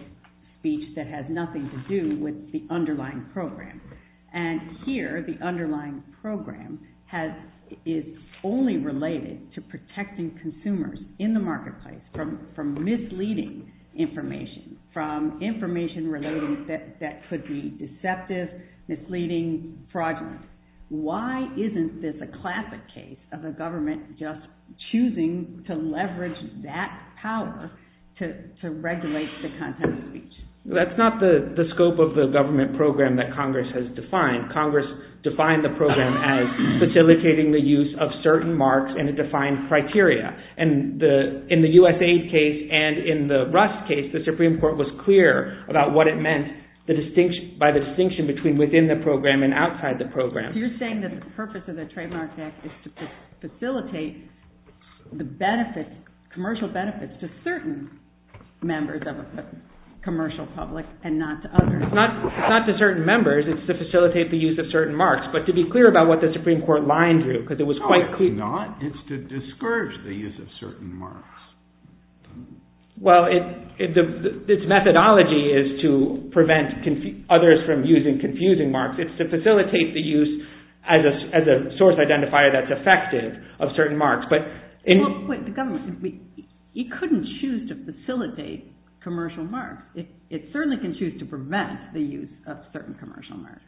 speech that has nothing to do with the underlying program and here the underlying program has is only related to protecting consumers in the marketplace from misleading information from information related that could be deceptive misleading fraudulent why isn't this a classic case of a government just choosing to leverage that power to regulate the content of speech that's not the scope of the government program that Congress has defined Congress defined the program as facilitating the use of certain marks and defined criteria and in the USA case and in the Rust case the Supreme Court was clear about what it meant by the distinction between within the program and outside the program you're saying that the purpose of the trademark act is to facilitate the benefits commercial benefits to certain members of a commercial public and not to others not to certain members it's to facilitate the use of certain marks but to be clear about what the Supreme Court line drew because it was quite clear it's to discourage the use of certain marks well its methodology is to prevent others from using confusing marks it's to facilitate the use as a source identifier that's effective of certain marks but the government you couldn't choose to facilitate commercial marks it certainly can choose to prevent the use of certain commercial marks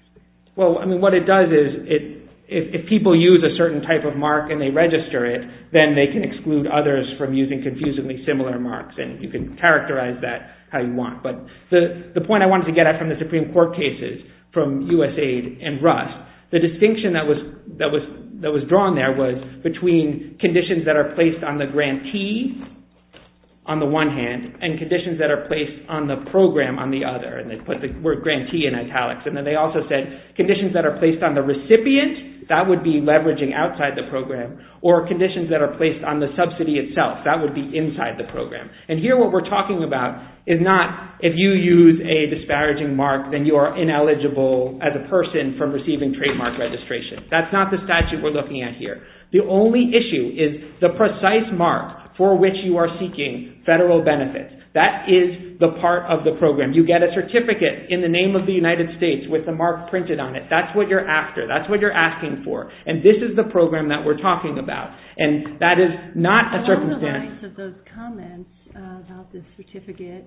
well I mean what it does is it if people use a certain type of mark and they register it then they can exclude others from using confusingly similar marks and you can characterize that how you want but the point I wanted to get from the Supreme Court cases from USAID and Rust the distinction that was drawn there was between conditions that are placed on the grantee on the one hand and conditions that are placed on the program on the other and they put the word grantee in italics and then they also said conditions that are placed on the recipient that would be leveraging outside the program or conditions that are placed on the subsidy itself that would be inside the program and here what we're talking about is not if you use a disparaging mark then you are ineligible as a person from receiving trademark registration that's not the statute we're looking at here the only issue is the precise mark for which you are seeking federal benefits that is the part of the program you get a certificate in the name of the United States with the mark printed on it that's what you're after that's what you're asking for and this is the program that we're talking about and that is not a circumstance Along the lines of those comments about the certificate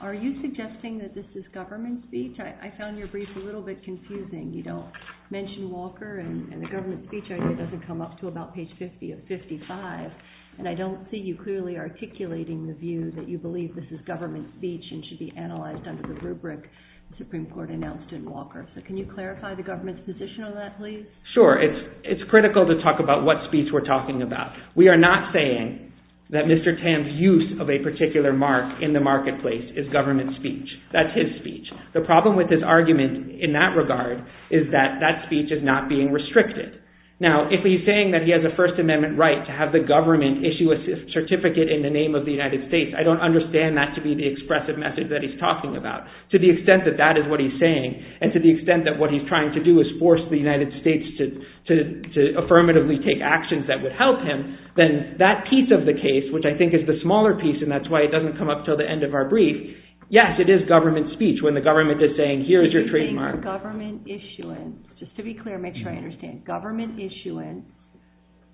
are you suggesting that this is government speech I found your brief a little bit confusing you don't mention Walker and the government speech doesn't come up to about page 50 of 55 and I don't see you clearly articulating the view that you believe this is government speech and should be analyzed under the rubric the Supreme Court announced in Walker so can you clarify the government's position on that please? Sure it's critical to talk about what speech we're talking about we are not saying that Mr. Tam's use of a particular mark in the marketplace is government speech that's his speech the problem with his argument in that regard is that that speech is not being restricted now if he's saying that he has a first amendment right to have the government issue a certificate in the name of the United States I don't understand that to be the expressive message that he's talking about to the extent that that is what he's saying and to the extent that what he's trying to do is force the United States to affirmatively take actions that would help him then that piece of the case which I think is the smaller piece and that's why it doesn't come up until the end of our brief yes it is government speech when the government is saying here is your trademark. Government issuance just to be clear make sure I understand government issuance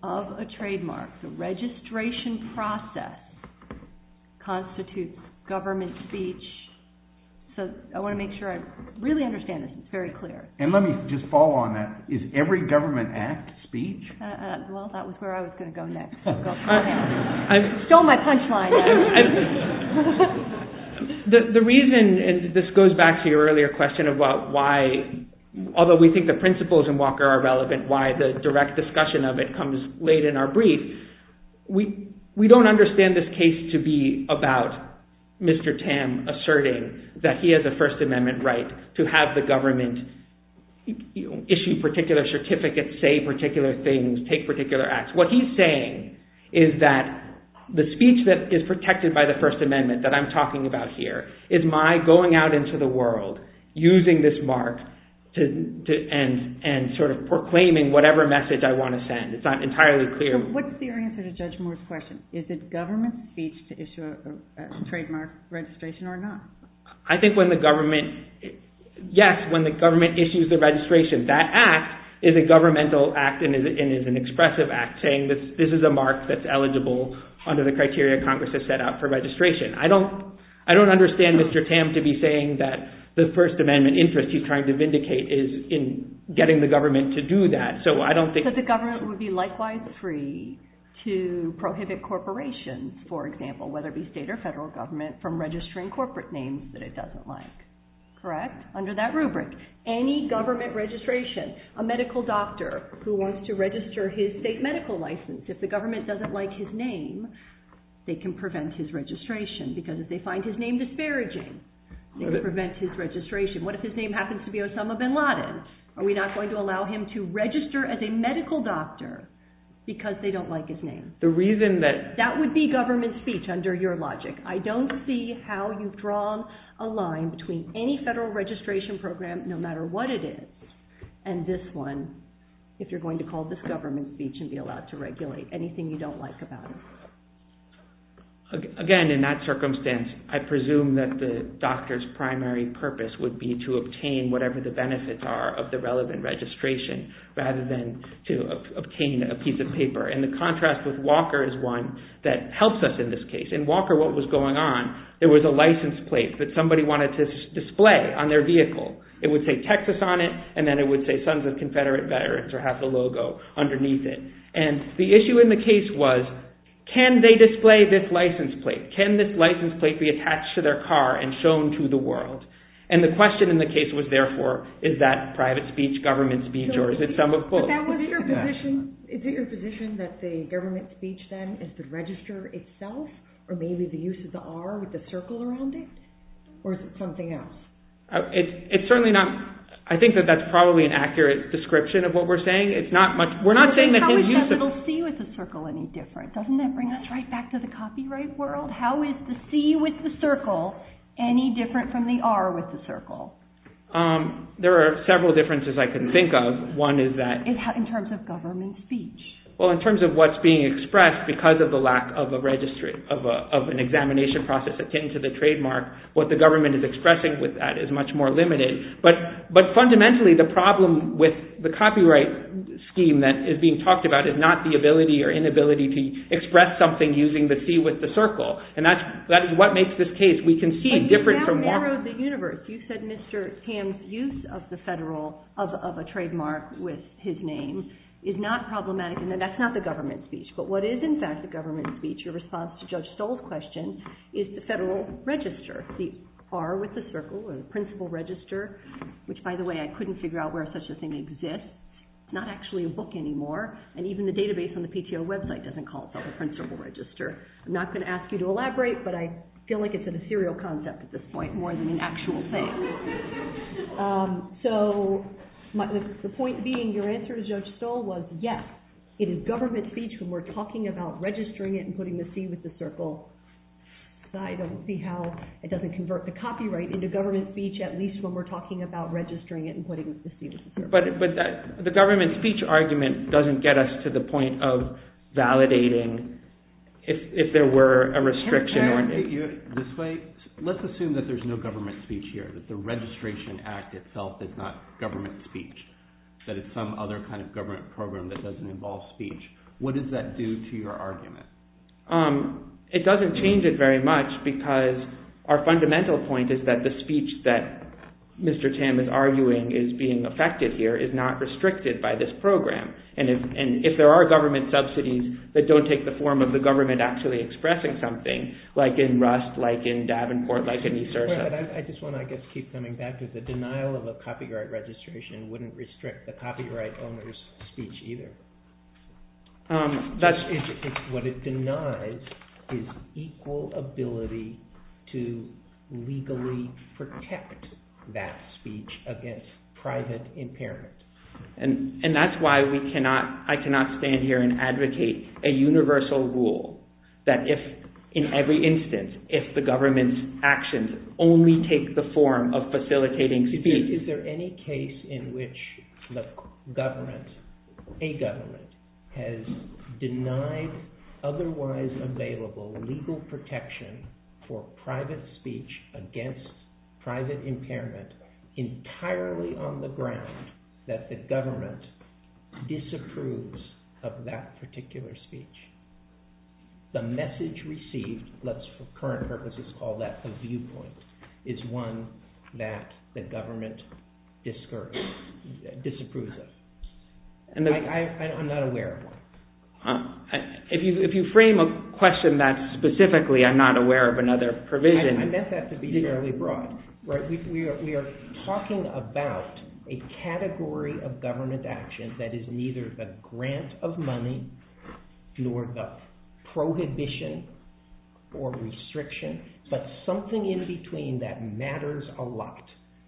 of a trademark the registration process constitutes government speech so I want to make sure I really understand this it's very clear. And let me just follow on that. Is every government act speech? Well that was where I was going to go next. You stole my punchline. The reason and this goes back to your earlier question about why although we think the principles in Walker are relevant why the direct discussion of it comes late in our brief we don't understand this case to be about Mr. Tam asserting that he has a First Amendment right to have the government issue particular certificates say particular things take particular acts. What he's saying is that the speech that is protected by the First Amendment that I'm talking about here is my going out into the world using this mark and sort of proclaiming whatever message I want to send. It's not entirely What's the answer to Judge Moore's question? Is it government speech to issue a trademark registration or not? I think when the government yes when the government issues the registration that act is a governmental act and is an expressive act saying that this is a mark that's eligible under the criteria Congress has set out for registration. I don't I don't understand Mr. Tam to be saying that the First Amendment interest he's trying to vindicate is in getting the government to do that. So I don't think the government would be likewise free to prohibit corporations for example whether it be state or federal government from registering corporate names that it doesn't like. Correct? Under that rubric any government registration a medical doctor who wants to register his state medical license if the government doesn't like his name they can prevent his registration because if they find his name disparaging they can prevent his registration. What if his name happens to be Osama bin Laden? Are we not going to allow him to register as a medical doctor like his name? The reason that That would be government speech under your logic. I don't see how you've drawn a line between any federal registration and any government registration program no matter what it is and this one if you're going to call this government speech and be allowed to regulate anything you don't like about it. Again in that circumstance I presume that the doctor's primary purpose would be to obtain whatever the benefits are of the relevant registration rather than to obtain a piece of paper and the contrast with Walker is one that helps us in this case. In Walker what was going on there was a license plate that somebody wanted to display on their vehicle. It would say Texas on it and then it would say Sons of Confederate Veterans or have the logo underneath it. And the issue in the case was can they display this license plate? Can this license plate be attached to their car and shown to the world? And the question in the case was therefore is that private speech, government speech or is it some of both? Is it your position that the government speech then is the register itself or maybe the use of the R with the circle around it? Or is it something else? It's certainly not, I think that that's probably an accurate description of what we're saying. It's not much, we're not saying that there's use of it. How is the C with the circle any different? Doesn't that bring us right back to the copyright world? How is the C with the circle any different from the R with the circle? There are several differences I can think of. One is that In terms of government speech. Well in terms of what's being said, what the government is expressing with that is much more limited. But fundamentally the problem with the copyright scheme that is being talked about is not the ability or inability to express something using the C with the circle. And that is what makes this case, we can see a difference from that. You said Mr. Ham's use of the federal, of a trademark with his name is not problematic and that's not the government speech. But what is in fact the government speech in response to Judge Stoll's question is the federal register. The R with the circle or the principal register which by the way I couldn't figure out where such a thing exists. It's not actually a book anymore and even the database on the PTO website doesn't call it the principal register. I'm not going to ask you to elaborate but I feel like it's a serial concept at this point more than an actual thing. So the point being your answer to Judge Stoll was yes, it is government speech when we're talking about registering it and putting the C with the circle side. I don't see how it doesn't convert the copyright into government speech at least when we're talking about registering it and putting the C with the circle. But the government speech argument doesn't get us to the point of validating if there were a restriction. Let's assume that there's no government speech here, that the registration act itself is not government speech, that it's some other kind of government program that doesn't involve speech. What does that do to your argument? It doesn't change it very much because our fundamental point is that the speech that Mr. Tam is arguing is being effective here is not restricted by this program. If there are government subsidies that don't take the form of the government actually expressing something like in Rust, like in Davenport, like in New Jersey. I just want to keep coming back to the denial of a copyright registration wouldn't restrict the copyright owner's speech either. That's what it denies is equal ability to legally protect that speech against private impairment. And that's why I cannot stand here and advocate a universal rule that if in every instance, if the government's actions only take the form of facilitating speech, is there any case in which the government, a government, has denied otherwise available legal protection for private speech against private impairment entirely on the ground that the government disapproves of that particular speech. The message received, let's for current purposes call that a viewpoint, is one that the government cannot discourage, disapprove of. I'm not aware of one. If you frame a question that specifically, I'm not aware of another provision. I meant that to be fairly broad. We are talking about a category of government action that is neither the grant of money nor the prohibition or restriction, but something in between that matters a lot.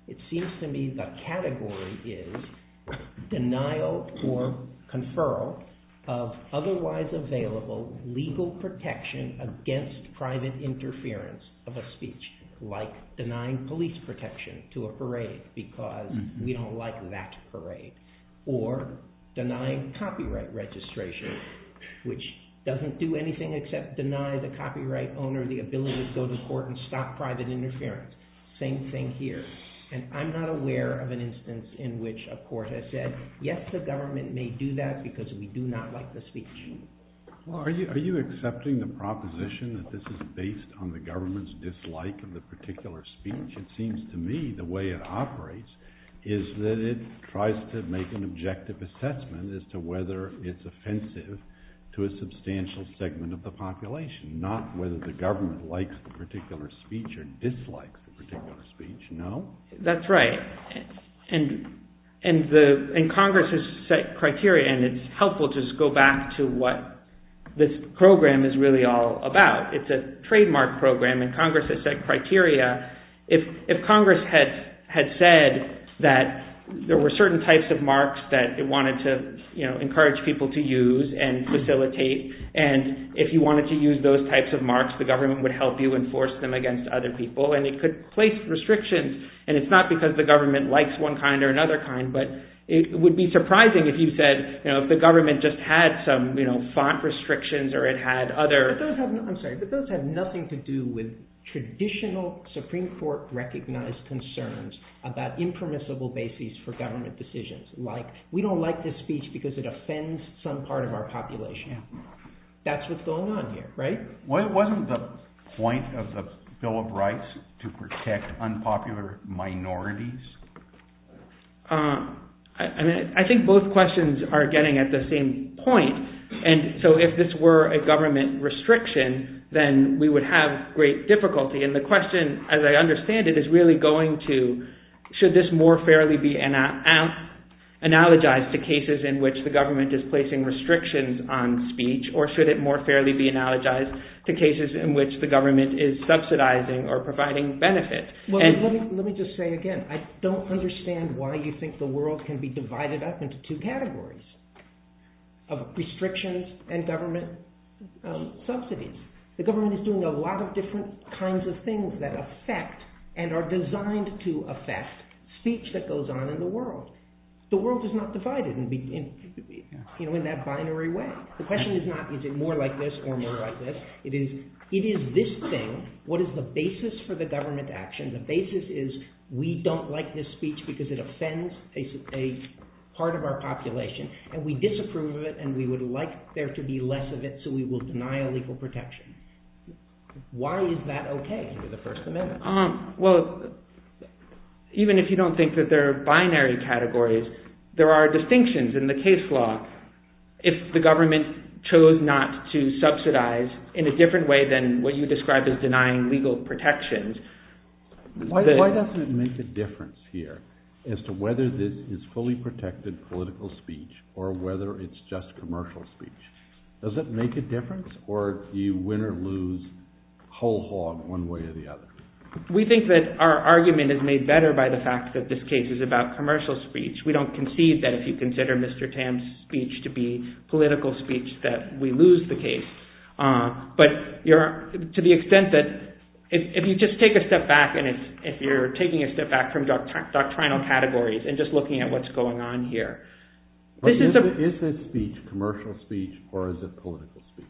It seems to me the category is denial or conferral of otherwise available legal protection against private interference of a speech like denying police protection to a parade because we don't like that parade. Or denying copyright registration which doesn't do anything except deny the copyright owner the ability to go to court and stop private interference. Same thing here. And I'm not aware of an instance in which a court has said yes, the government may do that because we do not like the speech. Are you accepting the proposition that this is based on the government's dislike of the particular speech? It seems to me the way it operates is that it tries to make an objective assessment as to whether it's offensive to a substantial segment of the population, not whether the government likes the particular speech or dislikes the particular speech. No? That's right. And Congress has set criteria and it's helpful to just go back to what this program is really all about. It's a trademark program and Congress has set criteria. If Congress had said that there were certain types of marks that it wanted to encourage people to use and facilitate and if you wanted to use those types of marks the government would help you enforce them against other people and it could place restrictions and it's not because the government likes one kind or another kind but it would be surprising if you said the government just had some font restrictions or it had other... But those have nothing to do with traditional Supreme Court recognized concerns about impermissible bases for government decisions like we don't like this speech because it offends some part of our population. That's what's going on here, right? Wasn't the point of the Bill of Rights to protect unpopular minorities? I think both questions are getting at the same point and so if this were a government restriction then we would have great difficulty and the question as I understand it is really going to should this more fairly be analogized to cases in which the government is placing restrictions on speech or should it more fairly be analogized to cases in which the government is subsidizing or providing benefits? Let me just say again, I don't understand why you think the world can be divided up into two categories of restrictions and government subsidies. The government is doing a lot of different kinds of things that affect and are designed to affect speech that goes on in the world. The world is not divided in that binary way. The question is not is it more like this or more like this. It is this thing, what is the basis for the government action? The basis is we don't like this speech because it offends a part of our population and we disapprove of it and we would like there to be less of it so we will deny a legal protection. Why is that okay for the First Amendment? Well, even if you don't think that there are binary categories there are different ways that the government chose not to subsidize in a different way than what you described as denying legal protections. Why does it make a difference here as to whether this is fully protected political speech or whether it is just commercial speech? Does it make a difference or do you win or lose whole hog one way or the other? We think that our argument is made better by the fact that this case is about commercial speech. We don't conceive that if you consider Mr. Tan's speech to be political speech that we lose the case but to the extent that if you just take a step back and if you're taking a step back from doctrinal categories and just looking at what's going on here. Is this speech commercial speech or is it political speech?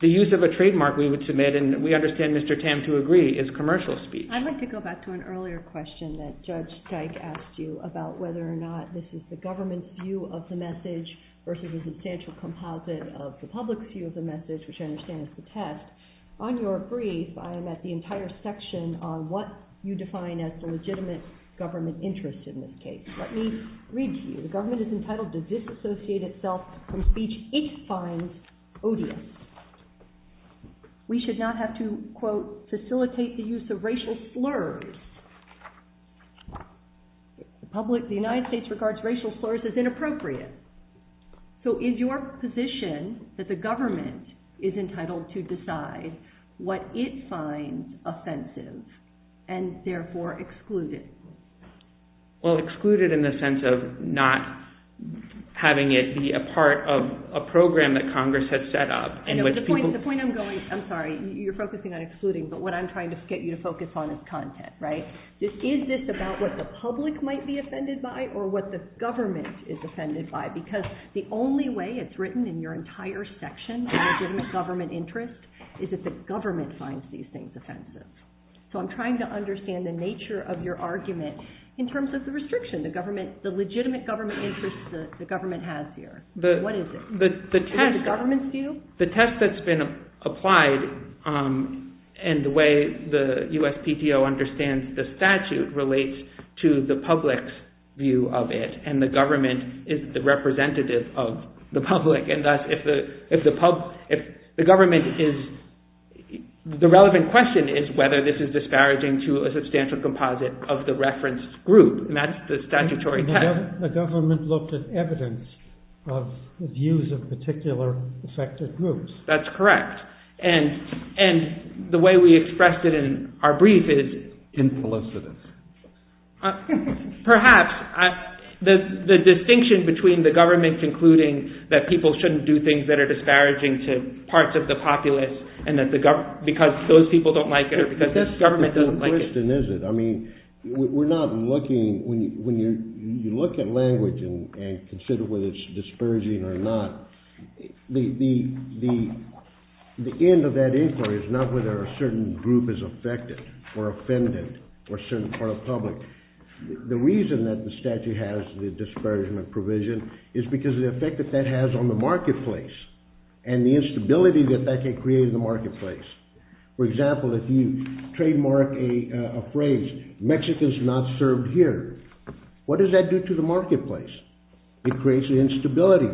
The use of a trademark we would submit and we understand Mr. Tan to agree is commercial speech. I'd like to go back to an earlier question that Judge Dyke asked you about whether or not this is the government's view of the message versus the substantial composite of the public view of the government. The government is entitled to disassociate itself from speech it finds odious. We should not have to quote facilitate the use of racial slurs. The public, the United States regards racial slurs as inappropriate. So is your position that the government is entitled to decide what it finds offensive and therefore exclude it? Well, exclude it in the sense of not having it be a part of a program that Congress has set up. The point I'm going, I'm sorry, you're focusing on excluding but what I'm trying focus on is content. Is this about what the public might be offended by or what the government is offended by because the only way it's written in your entire section of government interest is that the government finds these things offensive. So I'm trying to understand the nature of your argument in terms of the restriction. The legitimate government interest the government has here. What is it? The test that's been applied and the way the USPTO understands the statute relates to the public's view of it and the government is the representative of the public and thus if the government is, the relevant question is whether this is disparaging to a substantial composite of the reference group, not the statutory test. The government looked at evidence of views of particular affected groups. That's correct. And the way we expressed it in our brief is implicit. The government the representative of the public. Perhaps the distinction between the government concluding that people shouldn't do things that are disparaging to parts of the populace and because those people don't like it. We're not looking, when you look at language and culture, looking at the effect that that has on the marketplace. For example, if you trademark a phrase, Mexico's not served here, what does that do to the marketplace? It creates an instability.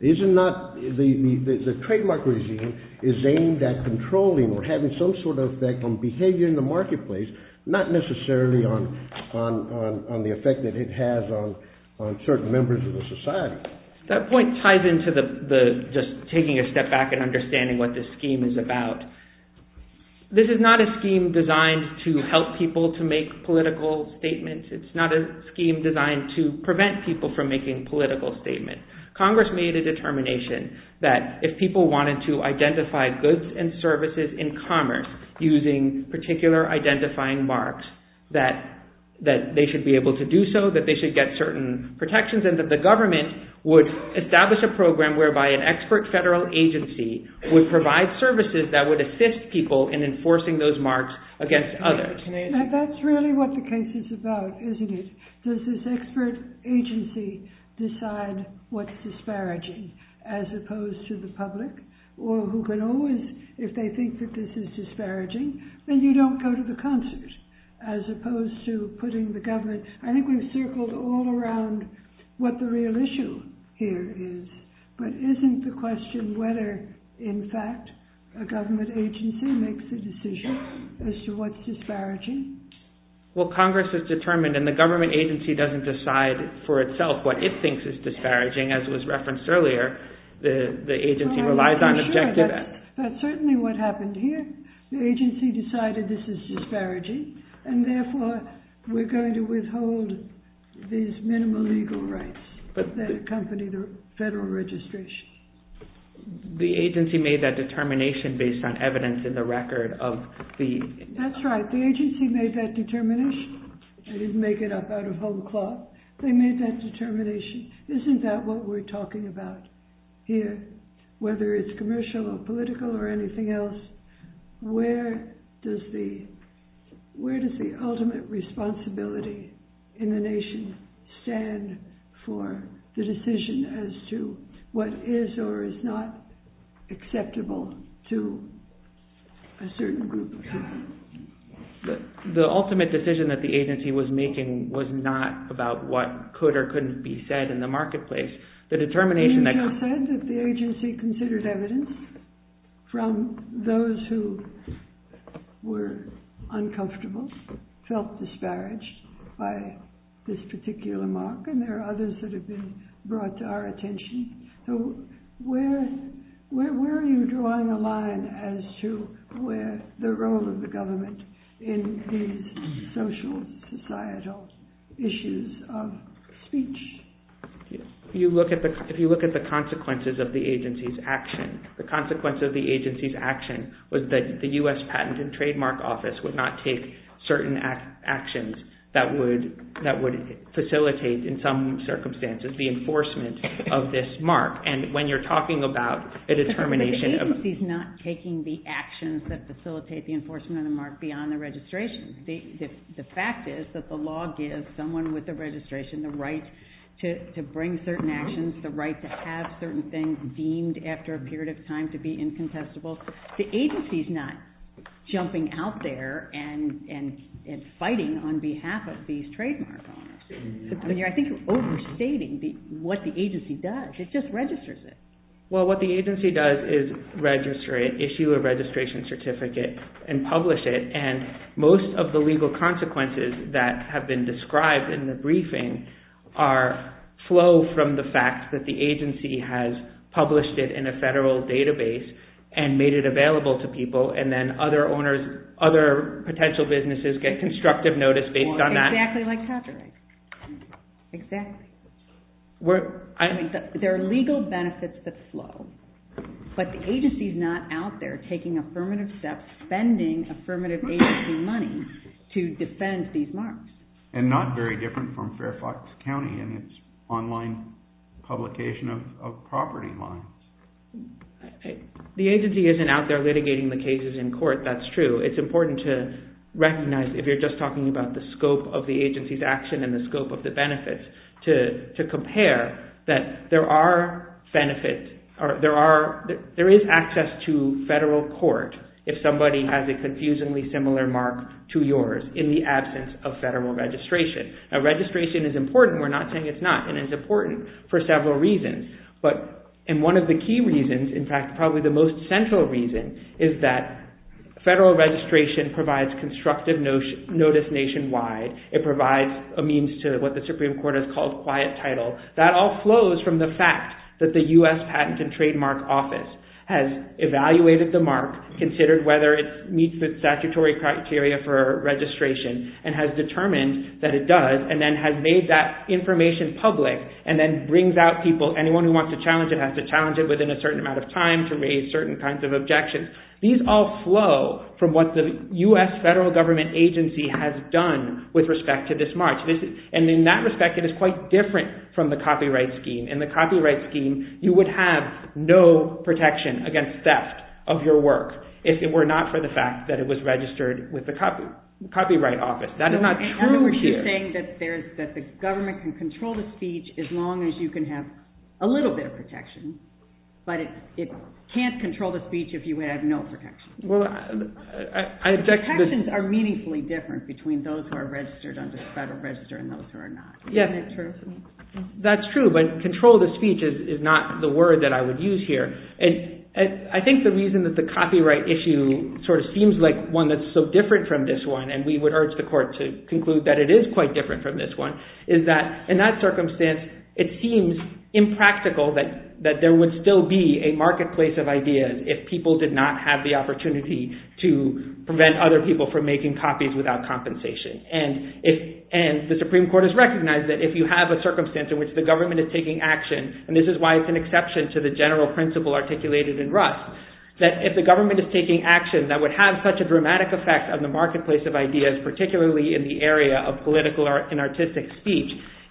The trademark regime is aimed at controlling or having some sort of effect on behavior in the marketplace, not necessarily on the effect that it has on certain members of the society. That point ties into the, just taking a step back and understanding what this scheme is about. This is not a scheme designed to help people to make political statements. It's not a scheme designed to prevent people from making political statements. It's not a to help people make political statements. Congress made a determination that if people wanted to identify goods and services in commerce using particular identifying marks, that they should be able to do so, that they should get certain protections and that the government would establish a program whereby an expert federal agency would provide services that would assist people in enforcing those marks against others. That's really what the case is about, isn't it? Does this expert agency decide what's disparaging as opposed to the public, or who can always, if they think that this is disparaging, then you don't go to the concert as opposed to putting the government, I think we've circled all around what the real issue here is, but isn't the question whether in fact a government agency makes the decision as to what's disparaging? Well, Congress has determined, and the government agency doesn't decide for itself what it thinks is disparaging, as was referenced earlier, the agency relies on objective... But certainly what happened here, the agency decided this is disparaging, and therefore we're going to withhold these funds. The agency made that determination based on evidence in the record of the... That's right. The agency made that determination. I didn't make it up out of bubble cloth. They made that determination. Isn't that what we're talking about here, whether it's commercial or political or anything else? Where does the ultimate responsibility in the nation stand for the decision as to what is or is not acceptable to a certain group of people? The ultimate decision that the agency was making was not about what could or couldn't be said in the marketplace. The determination that... You just said that the agency considered evidence from those who were uncomfortable, felt disparaged by this particular mark, and there are others that have been brought to our attention. So where are you drawing the line as to where the role of the government in these social and societal issues of speech? If you look at the consequences of the agency's action, the consequences of the agency's action was that the U.S. Patent and Trademark Office would not take certain actions that would facilitate in some circumstances the enforcement of this mark. And when you're talking about the determination of... The agency's not taking the actions that facilitate the enforcement of the mark beyond the registration. The fact is that the law gives someone with the registration the right to bring certain actions, the right to have certain things deemed after a period of time to be incontestable. The agency's not jumping out there and fighting on behalf of these trademarks. I think you're overstating what the agency does. It just registers it. Well, what the agency does is issue a registration certificate and publish it. And most of the legal consequences that have been described in the briefing are flow from the fact that the agency has published it in a federal database and made it available to people and then other potential businesses get constructive notice based on that. Exactly like copyright. Exactly. There are legal benefits that flow. But the agency's not out there taking affirmative steps, spending affirmative agency money to defend these marks. And not very different from Fairfax County in its online publication of property law. The agency isn't out there litigating the cases in court. That's true. It's important to recognize if you're just talking about the scope of the agency's action and the scope of the benefits to compare that there are benefits. There is access to federal court if somebody has a confusingly similar mark to yours in the absence of federal registration. Registration is important. We're not saying it's not. And it's important to recognize that federal registration provides constructive notice nationwide. It provides a means to what the Supreme Court has called quiet title. That all flows from the fact that the U.S. Patent and Trademark Office has evaluated the mark, considered whether it meets the statutory criteria for registration and has determined that it does and has made that information public and then brings out people, anyone who wants to challenge it has to challenge it within a certain amount of time to raise certain kinds of objections. These all flow from what the U.S. federal government agency has done with respect to this mark. In that respect it is quite different from the copyright scheme. In the copyright scheme you would have no protection against theft of your work if it were not for the fact that it was registered with the copyright office. That is not true here. You're saying that the government can control the speech as long as you can have a little bit of protection but it can't control the speech if you have no protection. The protections are meaningfully different between those who are registered under office and those who are not. I think the reason that the copyright issue seems like one that is so different from this one is that in that circumstance it seems impractical that there would still be a marketplace of ideas if people did not have the opportunity to prevent other people from making copies without compensation. The Supreme Court has recognized that if you have a circumstance in which the government is taking action and this is why it is an exception to the general principle articulated in Rust.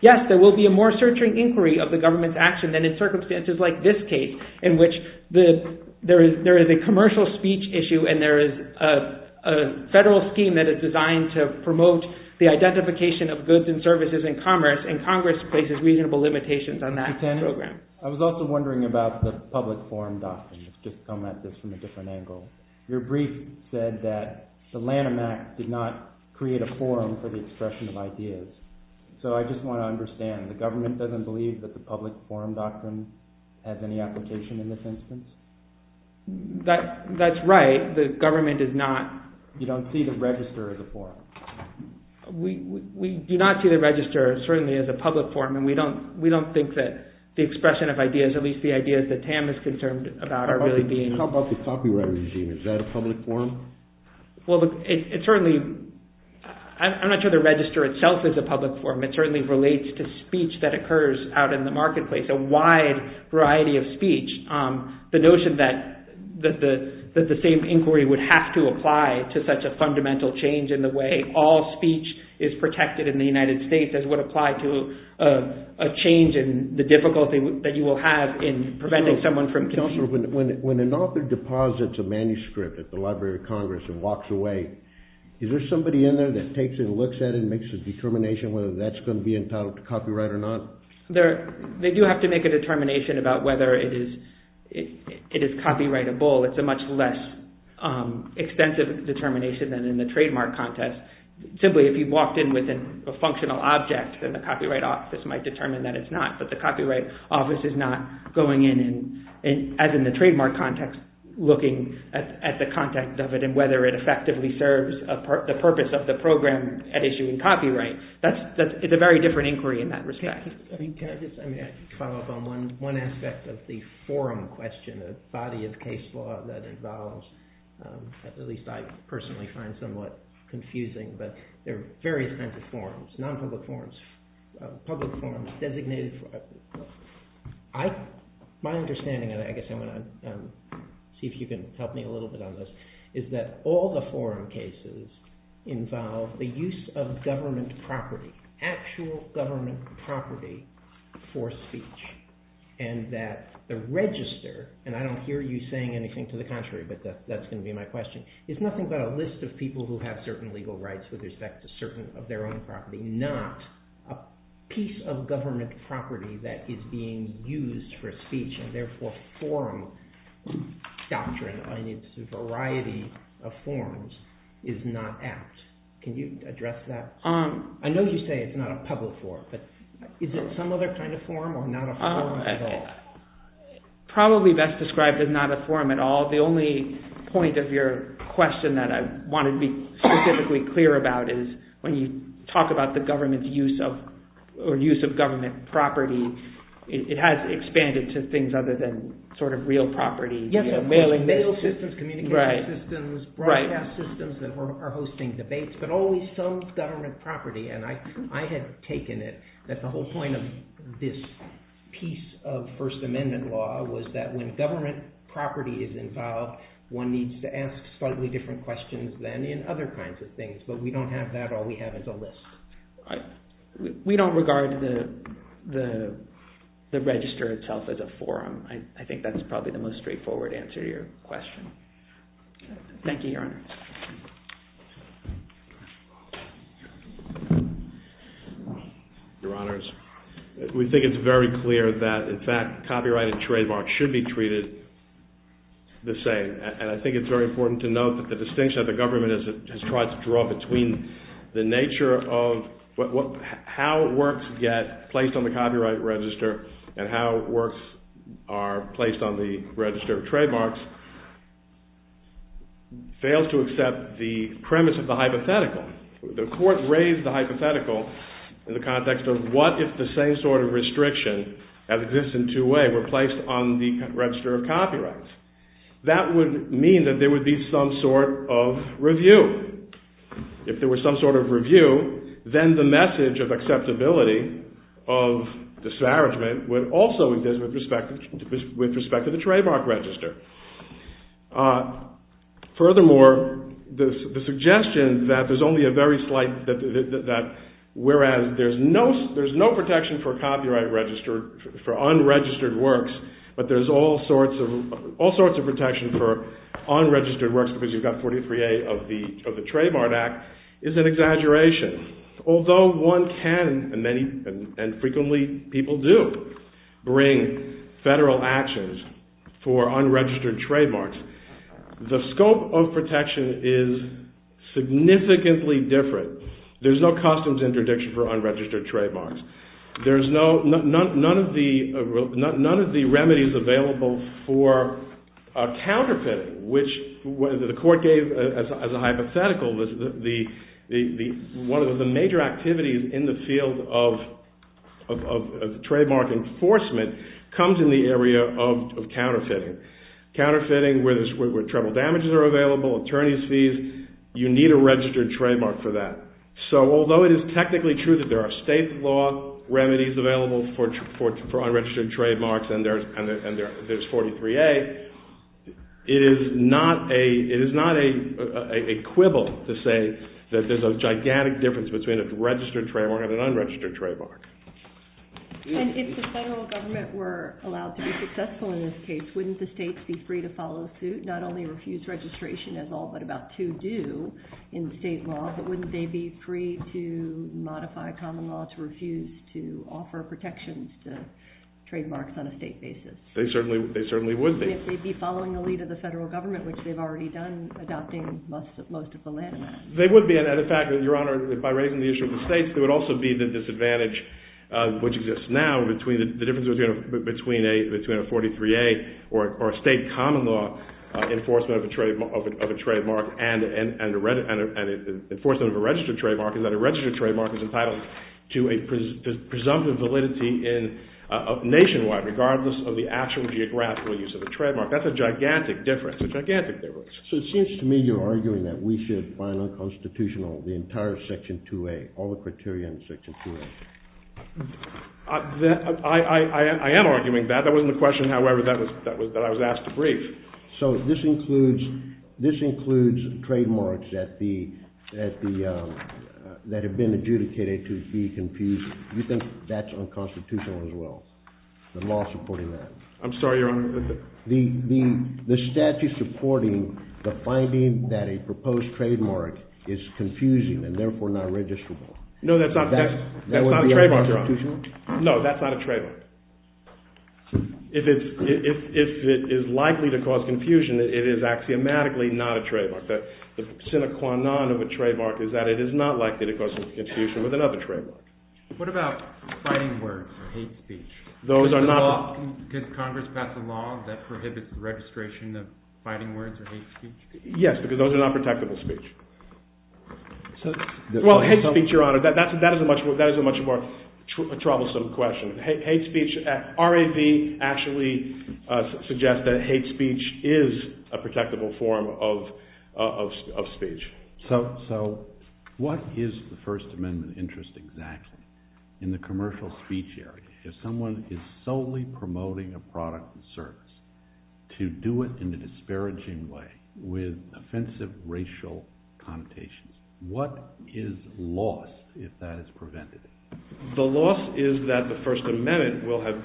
Yes, there will be a more searching inquiry of the government's action than in circumstances like this case in which there is a commercial speech issue and there is a federal scheme that is designed to promote the identification of goods and commerce and Congress places reasonable limitations on that program. I was also wondering about the public forum doctrine. Your brief said that the Lanham Act did not create a forum for the expression of ideas. So I just want to understand the government doesn't believe that the public forum doctrine has any application in this instance? That's right. The government does not. You don't see the register of the forum. We do not see the register certainly as a public forum and we don't think that the expression of ideas, at least the ideas that Tam is concerned about are really being... How about the copyright regime? Is that a public forum? Well, it certainly... I'm not sure the register itself is a public forum. It certainly relates to speech that occurs out in the marketplace, a wide variety of speech. The notion that the same inquiry would have to apply to such a fundamental change in the way all speech is protected in the United States as would apply to a change in the difficulty that you will have in preventing someone from... When an author deposits a manuscript at the Library of Congress and walks away, is there somebody in there that takes it and looks at it and makes a determination whether that's going to be entitled to copyright or not? They do have to make a determination about whether it is copyrightable. It's a much less expensive determination than in the trademark context. Simply, if you walked in with a functional object, then the Copyright Office might determine that it's not. But the Copyright Office is not going in and, as in the trademark context, looking at the context of it and whether it effectively serves the purpose of the program at issuing copyright. It's a very different inquiry in that respect. Can I just... I'm going to have to follow up on one aspect of the forum question, the body of case law that involves, at least I personally find somewhat confusing, but there are various kinds of forums, non-public forums, public forums, designated forums. My understanding, and I guess I'm going to see if you can help me a little bit on this, is that all the forum cases involve the use of government property, actual government property, for speech. And that the register, and I don't hear you saying anything to the contrary, but that's going to be my question, is nothing but a list of people who have certain legal rights with respect to certain of their own property, not a piece of government property that is being used for speech and therefore forum doctrine in its variety of forms is not apt. Can you address that? I know you say it's not a public forum, but is it some other kind of forum or not a forum at all? Probably best described as not a forum at all. The only point of your question that I want to be specifically clear about is when you talk about the government use of, or use of government property, it has expanded to things other than sort of real property. Yes, mail systems, communication systems, broadcast systems that are hosting debates, but only some government property, and I have taken it that the whole point of this piece of First Amendment law was that when government property is involved, one needs to ask slightly different questions than in other kinds of things, but we don't have that. All we have is a list. We don't regard the register itself as a forum. I think that's probably the most straightforward answer to your question. Thank you, Your Honor. Your Honors, we think it's very clear that in fact copyright and trademark should be treated the same, and I think it's very important to note that the distinction that the government has tried to draw between the on the register of trademarks fails to be treated the same. I think that the distinction that the government has tried to draw between the nature of copyright and be treated the same. The court raised the hypothetical in the context of what if the same sort of restriction as exists in two ways were placed on the register of copyright. That would mean that there would be some sort of review. If there was some sort of review, then the message of acceptability of disparagement would also exist with respect to the trademark register. Furthermore, the suggestion that there's only a very slight that whereas there's no protection for copyright registered for unregistered works, but there's all sorts of protection for unregistered you've got 43A of the Trademark Act is an exaggeration. Although one can, and frequently people do, bring federal actions to the register of copyright, for unregistered trademarks, the scope of protection is significantly There's no customs interdiction for unregistered trademarks. There's no, none of the remedies available for counterfeiting, which the court gave as a hypothetical. One of the major activities in the field of trademark enforcement comes in the area of counterfeiting Counterfeiting where trouble damages are available, attorneys' fees, you need a registered trademark for that. So although it is technically true that there are state law remedies available for unregistered trademarks and there's 43A, it is not a quibble to say that there's a gigantic difference between a registered trademark and an unregistered trademark. And if the question is wouldn't the states be free to follow suit, not only refuse registration as all but about two do in state law, but wouldn't they be free to modify common law to refuse to offer protections to trademarks on a state basis? They certainly would be. They'd be following the lead of the federal government which they've already done adopting most of the land. They would be and in fact, Your Honor, by raising the issue of the states, there would also be the disadvantage which exists now, the difference between a 43A or a state common law enforcement of a trademark and enforcement of a registered trademark is that there would be difference between a registered trademark and a state common law enforcement of a registered trademark and a state common law enforcement of a registered trademark. Now, that's not a trademark, Your Honor. No, that's not a trademark. If it is likely to cause confusion, it is axiomatically not a trademark. The sine qua non of a trademark is that it is not likely to cause confusion with another trademark. What about fighting words or hate speech? Did Congress pass a law that prohibits the registration of fighting words or hate speech? Yes, because those are not protectable speech. Well, hate speech, Your Honor, that is a much more troublesome question. R.A.B. actually suggests that hate speech is a protectable form of speech. So, what is the First Amendment interest exactly? In the commercial speech area, if someone is solely promoting a product and service, to do it in a disparaging way with offensive racial connotations, what is lost if that is prevented? The loss is that the First Amendment will have no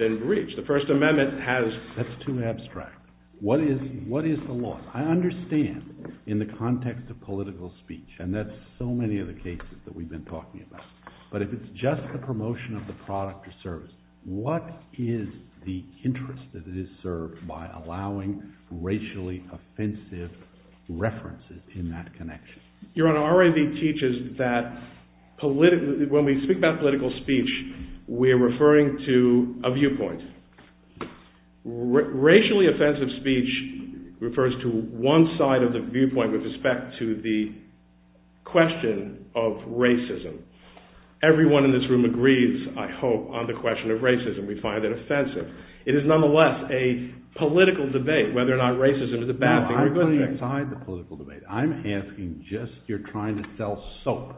political speech. And that's so many of the cases that we've been talking about. But if it's just the promotion of the product or service, what is that is served by allowing racially offensive references in that connection? Your Honor, R.A.B. teaches that when we speak about political debate, we're referring to the question of racism. Everyone in this room agrees, I hope, on the question of racism. We find it offensive. It is nonetheless a political debate whether or not racism is a bad thing. I'm asking just if you're trying to sell soap,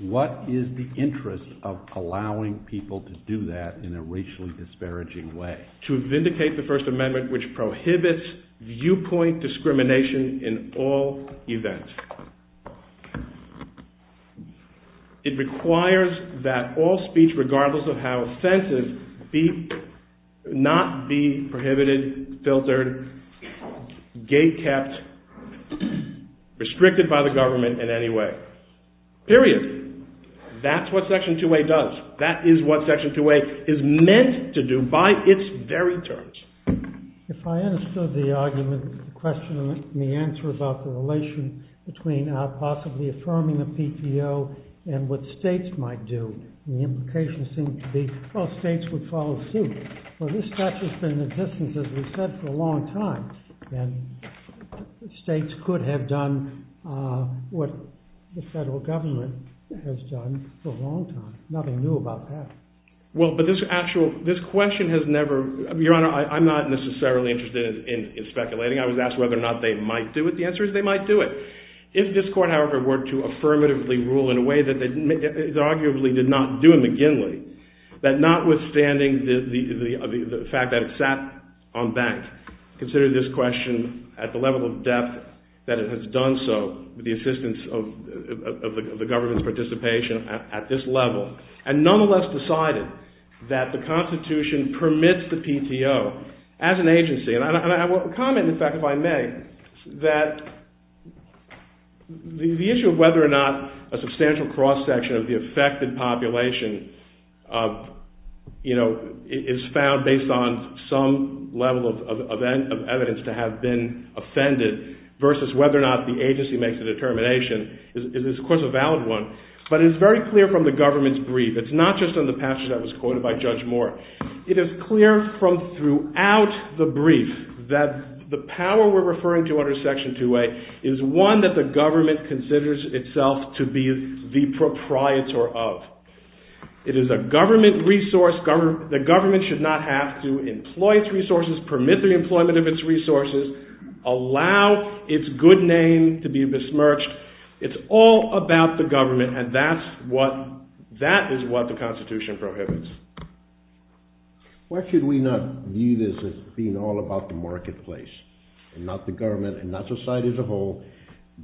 what is the interest of allowing people to speak in a racially disparaging way? To vindicate the First Amendment, which prohibits viewpoint in all events. It requires that all speech, regardless of how it senses, not be prohibited, filtered, gate-kept, restricted by the government in any way. Period. That's what Section 2A does. That is what Section 2A is meant to do by its very terms. If I understood the argument, the question, and the answer about the relation between possibly affirming a PTO and what states might do, the implication seemed to be, well, states would follow suit. Well, this stuff has been in the a long time. There's nothing new about that. Well, but this actual, this question has never, Your Honor, I'm not necessarily interested in speculating. I was asked whether or not they might do it. The answer is they might do it. If this court had worked to affirmatively rule in a way that they arguably did not do in the Ginley, that not withstanding the fact that it sat on bank, considered this question at the level of depth that it has done so with the assistance of the government's participation at this level, and nonetheless decided that the Constitution permits the PTO as an agency. And I will comment, in fact, if I may, that the issue of whether or not a substantial cross-section of the affected population, you know, is found based on some level of evidence to have been offended versus whether or not the agency makes a determination is, of course, a valid one, but it's very clear from the government's brief. It's not just in the passage that was quoted by Judge Moore. It is clear from throughout the brief that the power we're referring to under Section 2A is one that the government considers itself to be the proprietor of. It is a government resource. The government should not have to employ its resources, permit the employment of its resources, allow its good name to be besmirched. It's all about the government, and that is what the Constitution prohibits. Why should we not view this as being all about the good name of and the good name of society as a whole,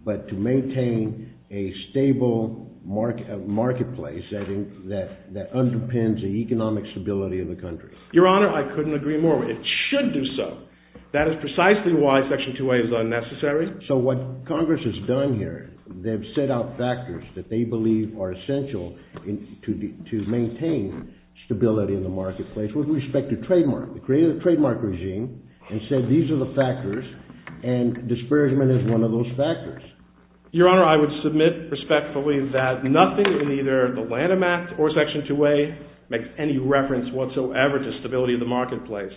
but to maintain a stable marketplace that underpins the economic stability of the country? Your Honor, I couldn't agree more. It should do so. That is precisely why Section 2A is unnecessary. So what Congress has done here, they've set out factors that they believe are essential to maintain stability in the marketplace with respect to trademark. They created a trademark regime and said these are the factors and disbursement is one of those factors. Your Honor, I would submit respectfully that nothing in either the Lanham Act or Section 2A makes any reference whatsoever to stability in the marketplace.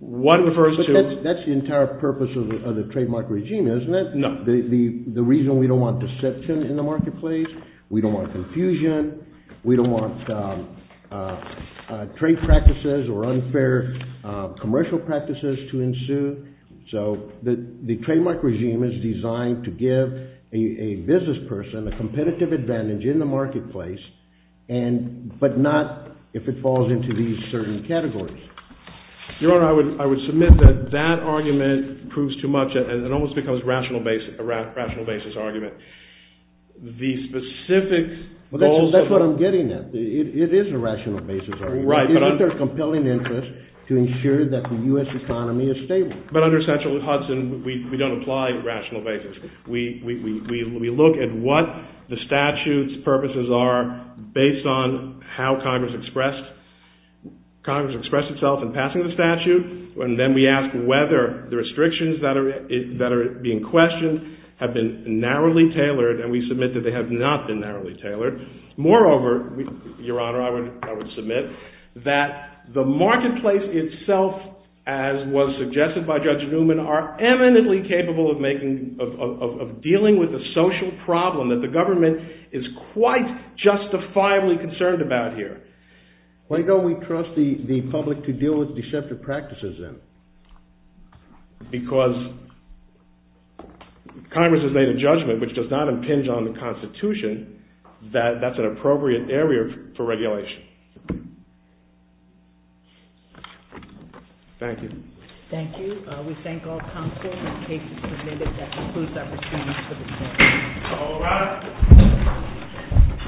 That's the entire purpose of the trademark regime, isn't it? No. The reason we don't want deception in the marketplace, we don't want confusion, we don't want trade practices or unfair commercial practices to ensue. So the trademark regime is designed to give a business person a competitive advantage in the marketplace, but not if it falls into these certain categories. Your Honor, I would submit that that argument proves too much. It almost becomes a rational basis argument. These specific... That's what I'm getting at. It is a rational basis argument. It's a compelling interest to ensure that the U.S. economy is stable. But under Central Hudson, we don't apply rational basis. We look at what the statute's purposes are based on how Congress expressed itself in passing the statute, and then we ask whether the restrictions that are being questioned have been narrowly tailored, and we submit that they have not been narrowly tailored. Moreover, Your Honor, I would submit that the marketplace itself, as was suggested by Judge Newman, are eminently capable of dealing with a social problem that the government is quite justifiably concerned about here. Why don't we trust the public to deal with deceptive practices then? Because Congress has made a judgment which does not impinge on the Constitution that that's an appropriate area for regulation. Thank you. Thank you. We thank all counsel and the cases submitted. That concludes our proceedings for this morning.